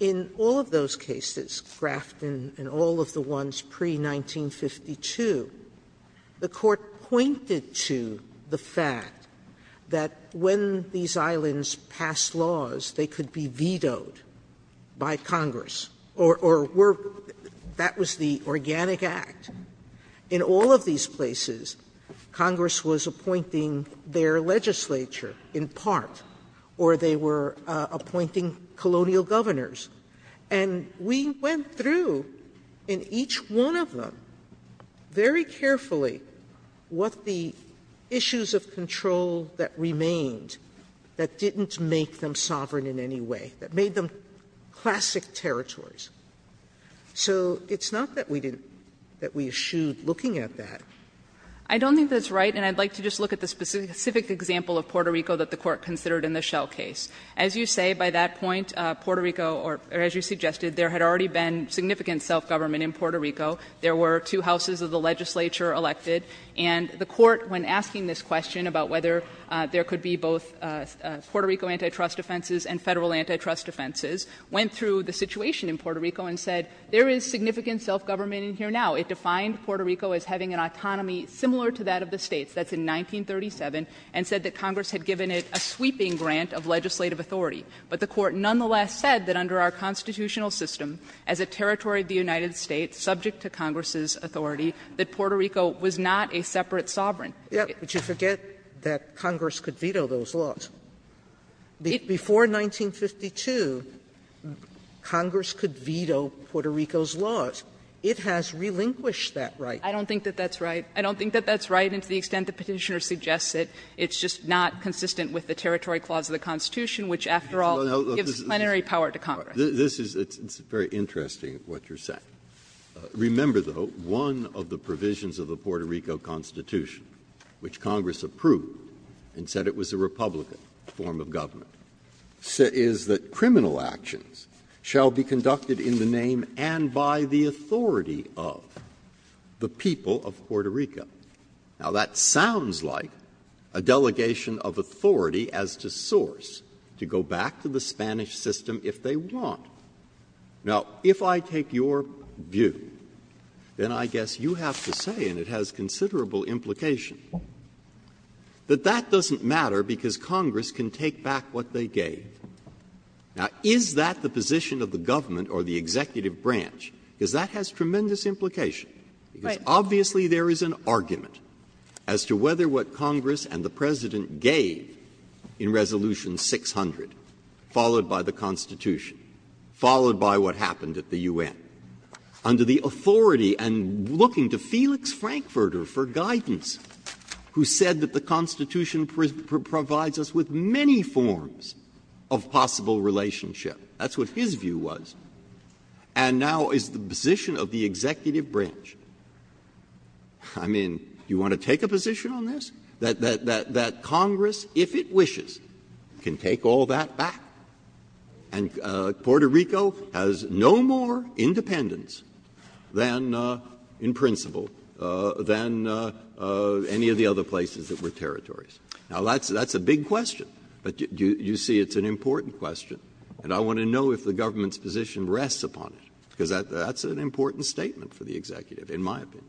In all of those cases, Grafton and all of the ones pre-1952, the Court pointed to the fact that when these islands passed laws, they could be vetoed by Congress or were that was the Organic Act. In all of these places, Congress was appointing their legislature in part, or they were appointing colonial governors. And we went through in each one of them very carefully what the issues of control that remained that didn't make them sovereign in any way, that made them classic territories. So it's not that we didn't – that we eschewed looking at that. I don't think that's right, and I'd like to just look at the specific example of Puerto Rico that the Court considered in the Shell case. As you say, by that point, Puerto Rico, or as you suggested, there had already been significant self-government in Puerto Rico. There were two houses of the legislature elected, and the Court, when asking this question about whether there could be both Puerto Rico antitrust offenses and Federal antitrust offenses, went through the situation in Puerto Rico and said, there is significant self-government in here now. It defined Puerto Rico as having an autonomy similar to that of the States. That's in 1937, and said that Congress had given it a sweeping grant of legislative authority. But the Court nonetheless said that under our constitutional system, as a territory of the United States subject to Congress's authority, that Puerto Rico was not a separate sovereign. Sotomayor, but you forget that Congress could veto those laws. Before 1952, Congress could veto Puerto Rico's laws. It has relinquished that right. I don't think that that's right. I don't think that that's right, and to the extent the Petitioner suggests it, it's just not consistent with the territory clause of the Constitution, which, after all, gives plenary power to Congress. Breyer, this is very interesting, what you're saying. Remember, though, one of the provisions of the Puerto Rico Constitution, which Congress approved and said it was a Republican form of government, is that criminal actions shall be conducted in the name and by the authority of the people of Puerto Rico. Now, that sounds like a delegation of authority as to source to go back to the Spanish system if they want. Now, if I take your view, then I guess you have to say, and it has considerable implication, that that doesn't matter because Congress can take back what they gave. Now, is that the position of the government or the executive branch? Because that has tremendous implication. Because obviously there is an argument as to whether what Congress and the President gave in Resolution 600, followed by the Constitution, followed by what happened at the U.N., under the authority and looking to Felix Frankfurter for guidance, who said that the Constitution provides us with many forms of possible relationship. That's what his view was. And now is the position of the executive branch. I mean, do you want to take a position on this, that Congress, if it wishes, can take all that back? And Puerto Rico has no more independence than, in principle, than any of the other places that were territories. Now, that's a big question. But you see it's an important question. And I want to know if the government's position rests upon it, because that's an important statement for the executive, in my opinion.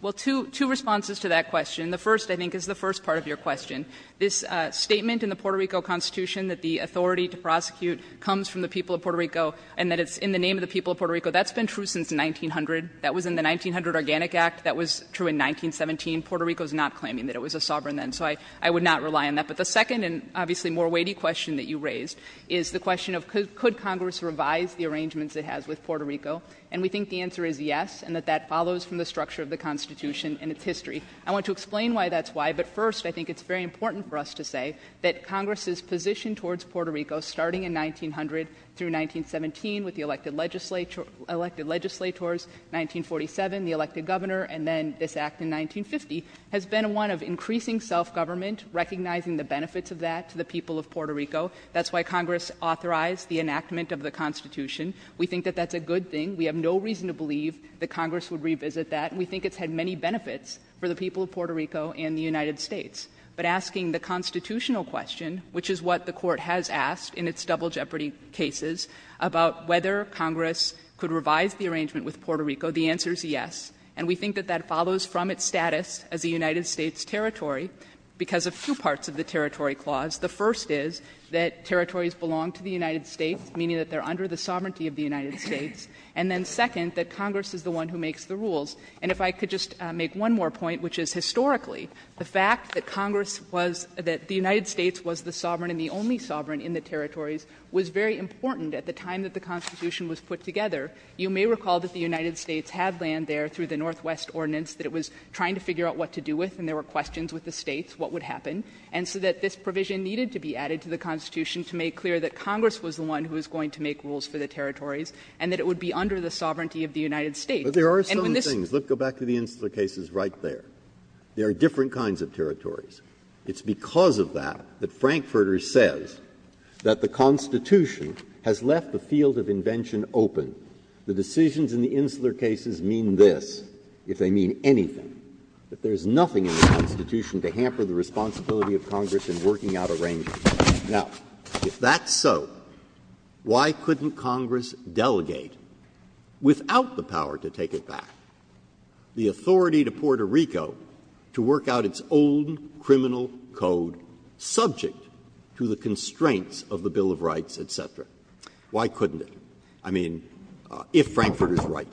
Well, two responses to that question. The first, I think, is the first part of your question. This statement in the Puerto Rico Constitution that the authority to prosecute comes from the people of Puerto Rico and that it's in the name of the people of Puerto Rico, that's been true since 1900. That was in the 1900 Organic Act. That was true in 1917. Puerto Rico is not claiming that it was a sovereign then. So I would not rely on that. But the second and obviously more weighty question that you raised is the question of could Congress revise the arrangements it has with Puerto Rico. And we think the answer is yes, and that that follows from the structure of the Constitution and its history. I want to explain why that's why. But first, I think it's very important for us to say that Congress's position towards Puerto Rico, starting in 1900 through 1917 with the elected legislature — elected legislators, 1947, the elected governor, and then this Act in 1950, has been one of increasing self-government, recognizing the benefits of that to the people of Puerto Rico. That's why Congress authorized the enactment of the Constitution. We think that that's a good thing. We have no reason to believe that Congress would revisit that. We think it's had many benefits for the people of Puerto Rico and the United States. But asking the constitutional question, which is what the Court has asked in its double-jeopardy cases about whether Congress could revise the arrangement with Puerto Rico, the answer is yes. And we think that that follows from its status as a United States territory because of two parts of the territory clause. The first is that territories belong to the United States, meaning that they are under the sovereignty of the United States. And then second, that Congress is the one who makes the rules. And if I could just make one more point, which is historically, the fact that Congress was — that the United States was the sovereign and the only sovereign in the territories was very important at the time that the Constitution was put together. You may recall that the United States had land there through the Northwest Ordinance, that it was trying to figure out what to do with, and there were questions with the States, what would happen, and so that this provision needed to be added to the Constitution to make clear that Congress was the one who was going to make rules for the territories and that it would be under the sovereignty of the United States. And when this was the case, and there are some things, let's go back to the Insular cases right there. There are different kinds of territories. It's because of that that Frankfurter says that the Constitution has left the field of invention open. The decisions in the Insular cases mean this, if they mean anything, that there is nothing in the Constitution to hamper the responsibility of Congress in working out arrangements. Now, if that's so, why couldn't Congress delegate, without the power to take it back, the authority to Puerto Rico to work out its own criminal code subject to the constraints of the Bill of Rights, et cetera? Why couldn't it? I mean, if Frankfurter is right,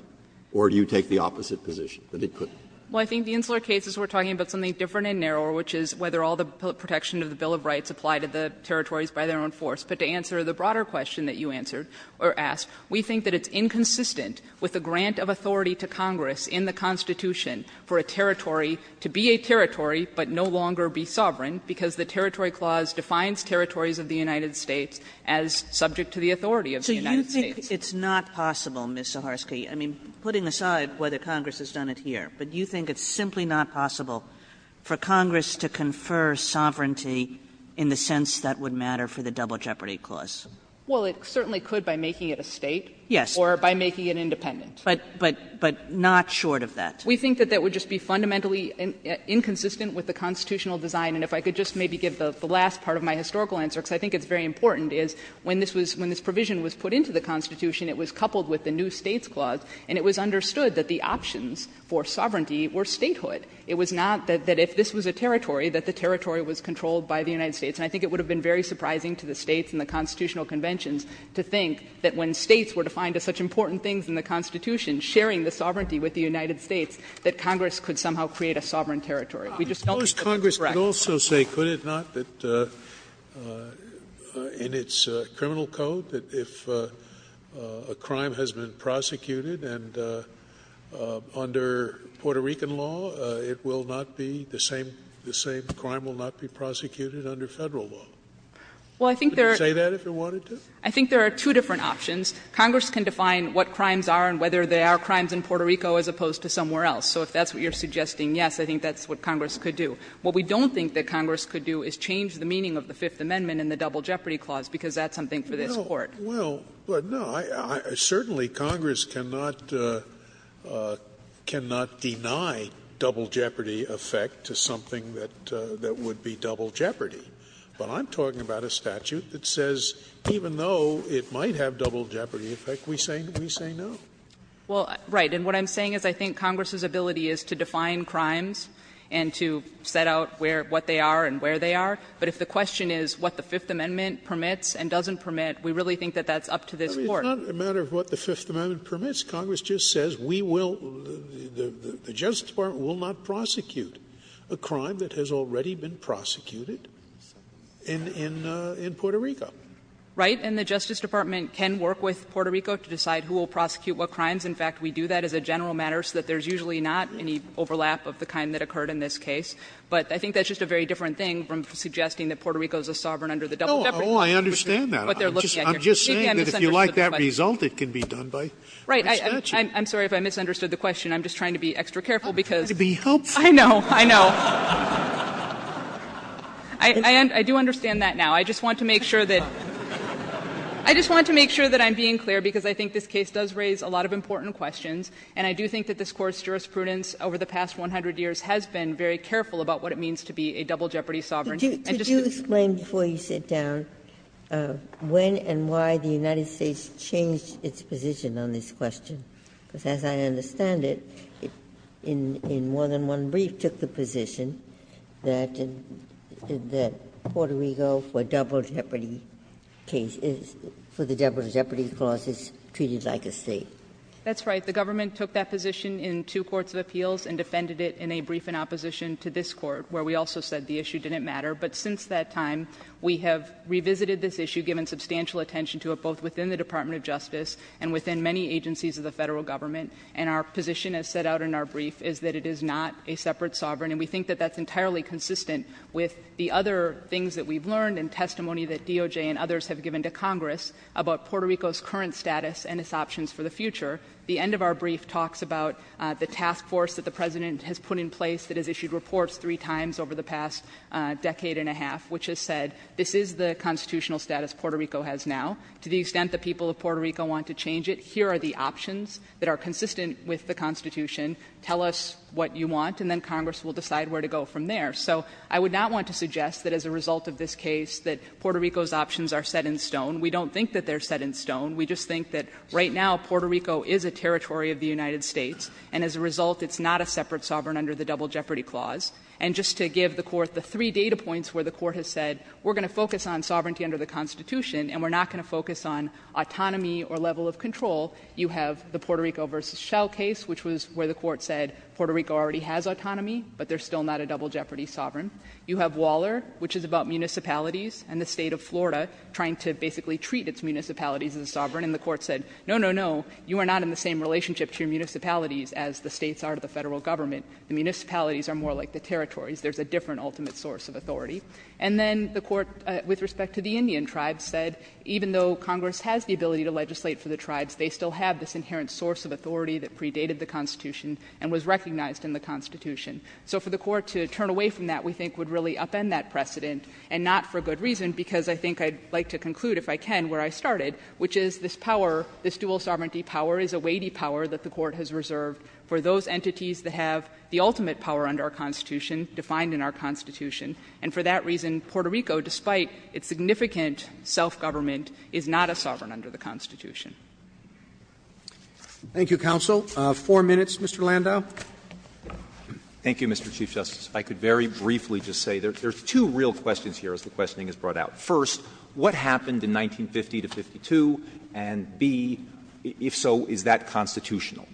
or do you take the opposite position, that it couldn't? Well, I think the Insular cases were talking about something different and narrower, which is whether all the protection of the Bill of Rights apply to the territories by their own force. But to answer the broader question that you answered or asked, we think that it's inconsistent with the grant of authority to Congress in the Constitution for a territory to be a territory, but no longer be sovereign, because the Territory Clause defines territories of the United States as subject to the authority of the United States. Kagan, so you think it's not possible, Ms. Zaharsky, I mean, putting aside whether for Congress to confer sovereignty in the sense that would matter for the Double Jeopardy Clause? Well, it certainly could by making it a State. Yes. Or by making it independent. But not short of that. We think that that would just be fundamentally inconsistent with the constitutional design. And if I could just maybe give the last part of my historical answer, because I think it's very important, is when this provision was put into the Constitution, it was coupled with the New States Clause, and it was understood that the options for sovereignty were statehood. It was not that if this was a territory, that the territory was controlled by the United States. And I think it would have been very surprising to the States and the constitutional conventions to think that when States were defined as such important things in the Constitution, sharing the sovereignty with the United States, that Congress could somehow create a sovereign territory. We just don't think that's correct. Could Congress also say, could it not, that in its criminal code, that if a crime has been prosecuted and under Puerto Rican law, it will not be the same, the same crime will not be prosecuted under Federal law? Would it say that if it wanted to? I think there are two different options. Congress can define what crimes are and whether they are crimes in Puerto Rico as opposed to somewhere else. So if that's what you're suggesting, yes, I think that's what Congress could do. What we don't think that Congress could do is change the meaning of the Fifth Amendment and the Double Jeopardy Clause, because that's something for this Court. Scalia, Well, no, certainly Congress cannot deny double jeopardy effect to something that would be double jeopardy. But I'm talking about a statute that says even though it might have double jeopardy effect, we say no. Well, right, and what I'm saying is I think Congress's ability is to define crimes and to set out what they are and where they are, but if the question is what the Fifth Amendment permits, Congress just says we will, the Justice Department will not prosecute a crime that has already been prosecuted in Puerto Rico. Right? And the Justice Department can work with Puerto Rico to decide who will prosecute what crimes. In fact, we do that as a general matter so that there's usually not any overlap of the kind that occurred in this case. But I think that's just a very different thing from suggesting that Puerto Rico is a sovereign under the Double Jeopardy Clause. Scalia, No, I understand that. I'm just saying that if you like that result, it can be done by a statute. I'm sorry if I misunderstood the question. I'm just trying to be extra careful because. I'm trying to be helpful. I know. I know. I do understand that now. I just want to make sure that I'm being clear because I think this case does raise a lot of important questions, and I do think that this Court's jurisprudence over the past 100 years has been very careful about what it means to be a double jeopardy sovereign. Ginsburg, could you explain before you sit down when and why the United States changed its position on this question? Because as I understand it, it in more than one brief took the position that Puerto Rico for double jeopardy cases, for the Double Jeopardy Clause is treated like a state. That's right. The government took that position in two courts of appeals and defended it in a brief in opposition to this Court, where we also said the issue didn't matter. But since that time, we have revisited this issue, given substantial attention to it both within the Department of Justice and within many agencies of the Federal Government, and our position as set out in our brief is that it is not a separate sovereign, and we think that that's entirely consistent with the other things that we've learned and testimony that DOJ and others have given to Congress about Puerto Rico's current status and its options for the future. The end of our brief talks about the task force that the President has put in place that has issued reports three times over the past decade and a half, which has said this is the constitutional status Puerto Rico has now. To the extent that people of Puerto Rico want to change it, here are the options that are consistent with the Constitution. Tell us what you want, and then Congress will decide where to go from there. So I would not want to suggest that as a result of this case that Puerto Rico's options are set in stone. We don't think that they're set in stone. We just think that right now Puerto Rico is a territory of the United States, and as a result it's not a separate sovereign under the Double Jeopardy Clause. And just to give the Court the three data points where the Court has said we're going to focus on sovereignty under the Constitution and we're not going to focus on autonomy or level of control, you have the Puerto Rico v. Shell case, which was where the Court said Puerto Rico already has autonomy, but they're still not a double jeopardy sovereign. You have Waller, which is about municipalities and the State of Florida trying to basically treat its municipalities as sovereign, and the Court said, no, no, no, you are not in the same relationship to your municipalities as the States are to the Federal Government. The municipalities are more like the territories. There's a different ultimate source of authority. And then the Court, with respect to the Indian tribes, said even though Congress has the ability to legislate for the tribes, they still have this inherent source of authority that predated the Constitution and was recognized in the Constitution. So for the Court to turn away from that, we think, would really upend that precedent, and not for good reason, because I think I'd like to conclude, if I can, where I started, which is this power, this dual sovereignty power, is a weighty power that the Court has reserved for those entities that have the ultimate power under our Constitution, defined in our Constitution. And for that reason, Puerto Rico, despite its significant self-government, is not a sovereign under the Constitution. Roberts. Thank you, counsel. Four minutes, Mr. Landau. Landau, thank you, Mr. Chief Justice. If I could very briefly just say, there's two real questions here, as the questioning has brought out. First, what happened in 1950 to 1952, and, B, if so, is that constitutional?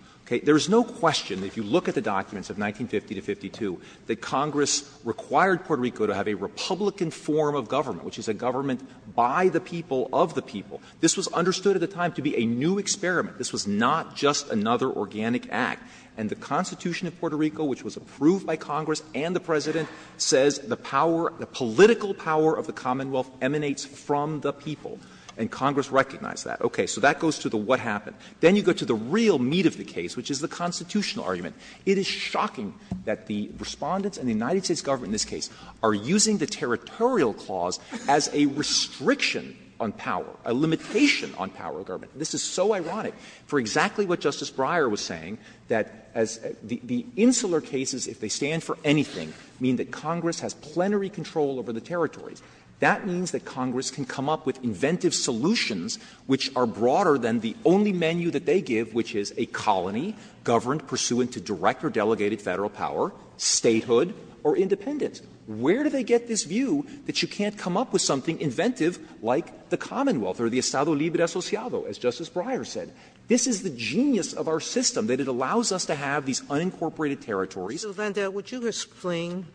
There is no question, if you look at the documents of 1950 to 1952, that Congress required Puerto Rico to have a Republican form of government, which is a government by the people of the people. This was understood at the time to be a new experiment. This was not just another organic act. And the Constitution of Puerto Rico, which was approved by Congress and the President, says the power, the political power of the Commonwealth emanates from the people, and Congress recognized that. Okay. So that goes to the what happened. Then you go to the real meat of the case, which is the constitutional argument. It is shocking that the Respondents and the United States government in this case are using the territorial clause as a restriction on power, a limitation on power of government. This is so ironic, for exactly what Justice Breyer was saying, that as the insular cases, if they stand for anything, mean that Congress has plenary control over the territories. That means that Congress can come up with inventive solutions which are broader than the only menu that they give, which is a colony governed pursuant to direct or delegated Federal power, statehood, or independence. Where do they get this view that you can't come up with something inventive like the Commonwealth or the Estado Libre Asociado, as Justice Breyer said? This is the genius of our system, that it allows us to have these unincorporated territories. Sotomayor, would you explain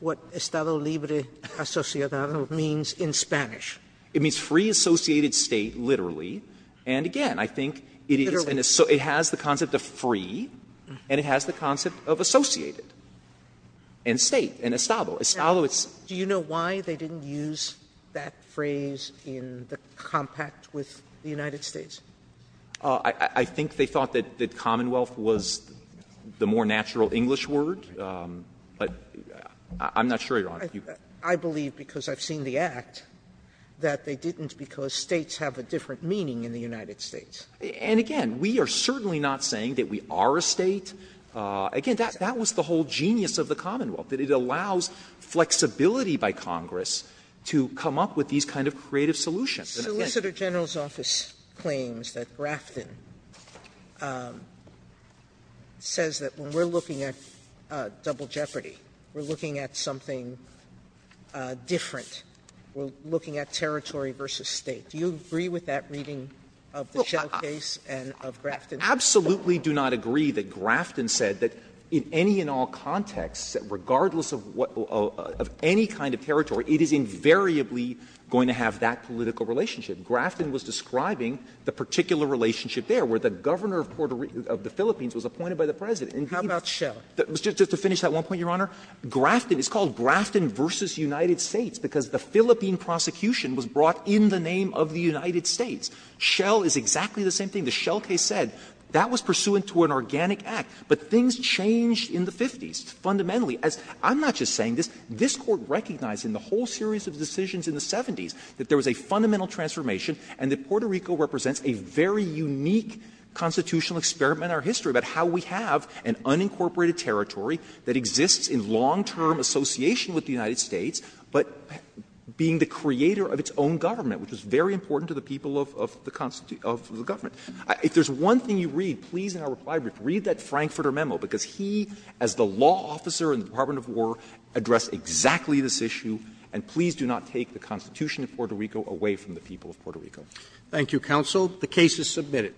what Estado Libre Asociado means in Spanish? It means free associated state, literally. And again, I think it is an assoc — it has the concept of free, and it has the concept of associated, and state, and Estado. Do you know why they didn't use that phrase in the compact with the United States? I think they thought that Commonwealth was the more natural English word, but I'm not sure, Your Honor. I believe, because I've seen the Act, that they didn't because states have a different meaning in the United States. And again, we are certainly not saying that we are a state. Again, that was the whole genius of the Commonwealth, that it allows flexibility by Congress to come up with these kind of creative solutions. And I think that's what it means. Sotomayor, solicitor general's office claims that Grafton says that when we are looking at Double Jeopardy, we are looking at something different. We are looking at territory versus State. Do you agree with that reading of the Shell case and of Grafton? I absolutely do not agree that Grafton said that in any and all contexts, regardless of what of any kind of territory, it is invariably going to have that political relationship. Grafton was describing the particular relationship there where the governor of Puerto Rico, of the Philippines, was appointed by the President. And he was just to finish that one point, Your Honor. Grafton, it's called Grafton versus United States because the Philippine prosecution was brought in the name of the United States. Shell is exactly the same thing. The Shell case said that was pursuant to an organic act. But things changed in the 50s, fundamentally, as I'm not just saying this. This Court recognized in the whole series of decisions in the 70s that there was a fundamental transformation and that Puerto Rico represents a very unique constitutional experiment in our history about how we have an unincorporated territory that exists in long-term association with the United States, but being the creator of its own government, which was very important to the people of the government. If there's one thing you read, please, in our reply brief, read that Frankfurter memo, because he, as the law officer in the Department of War, addressed exactly this issue. And please do not take the Constitution of Puerto Rico away from the people of Puerto Rico. Roberts. Thank you, counsel. The case is submitted.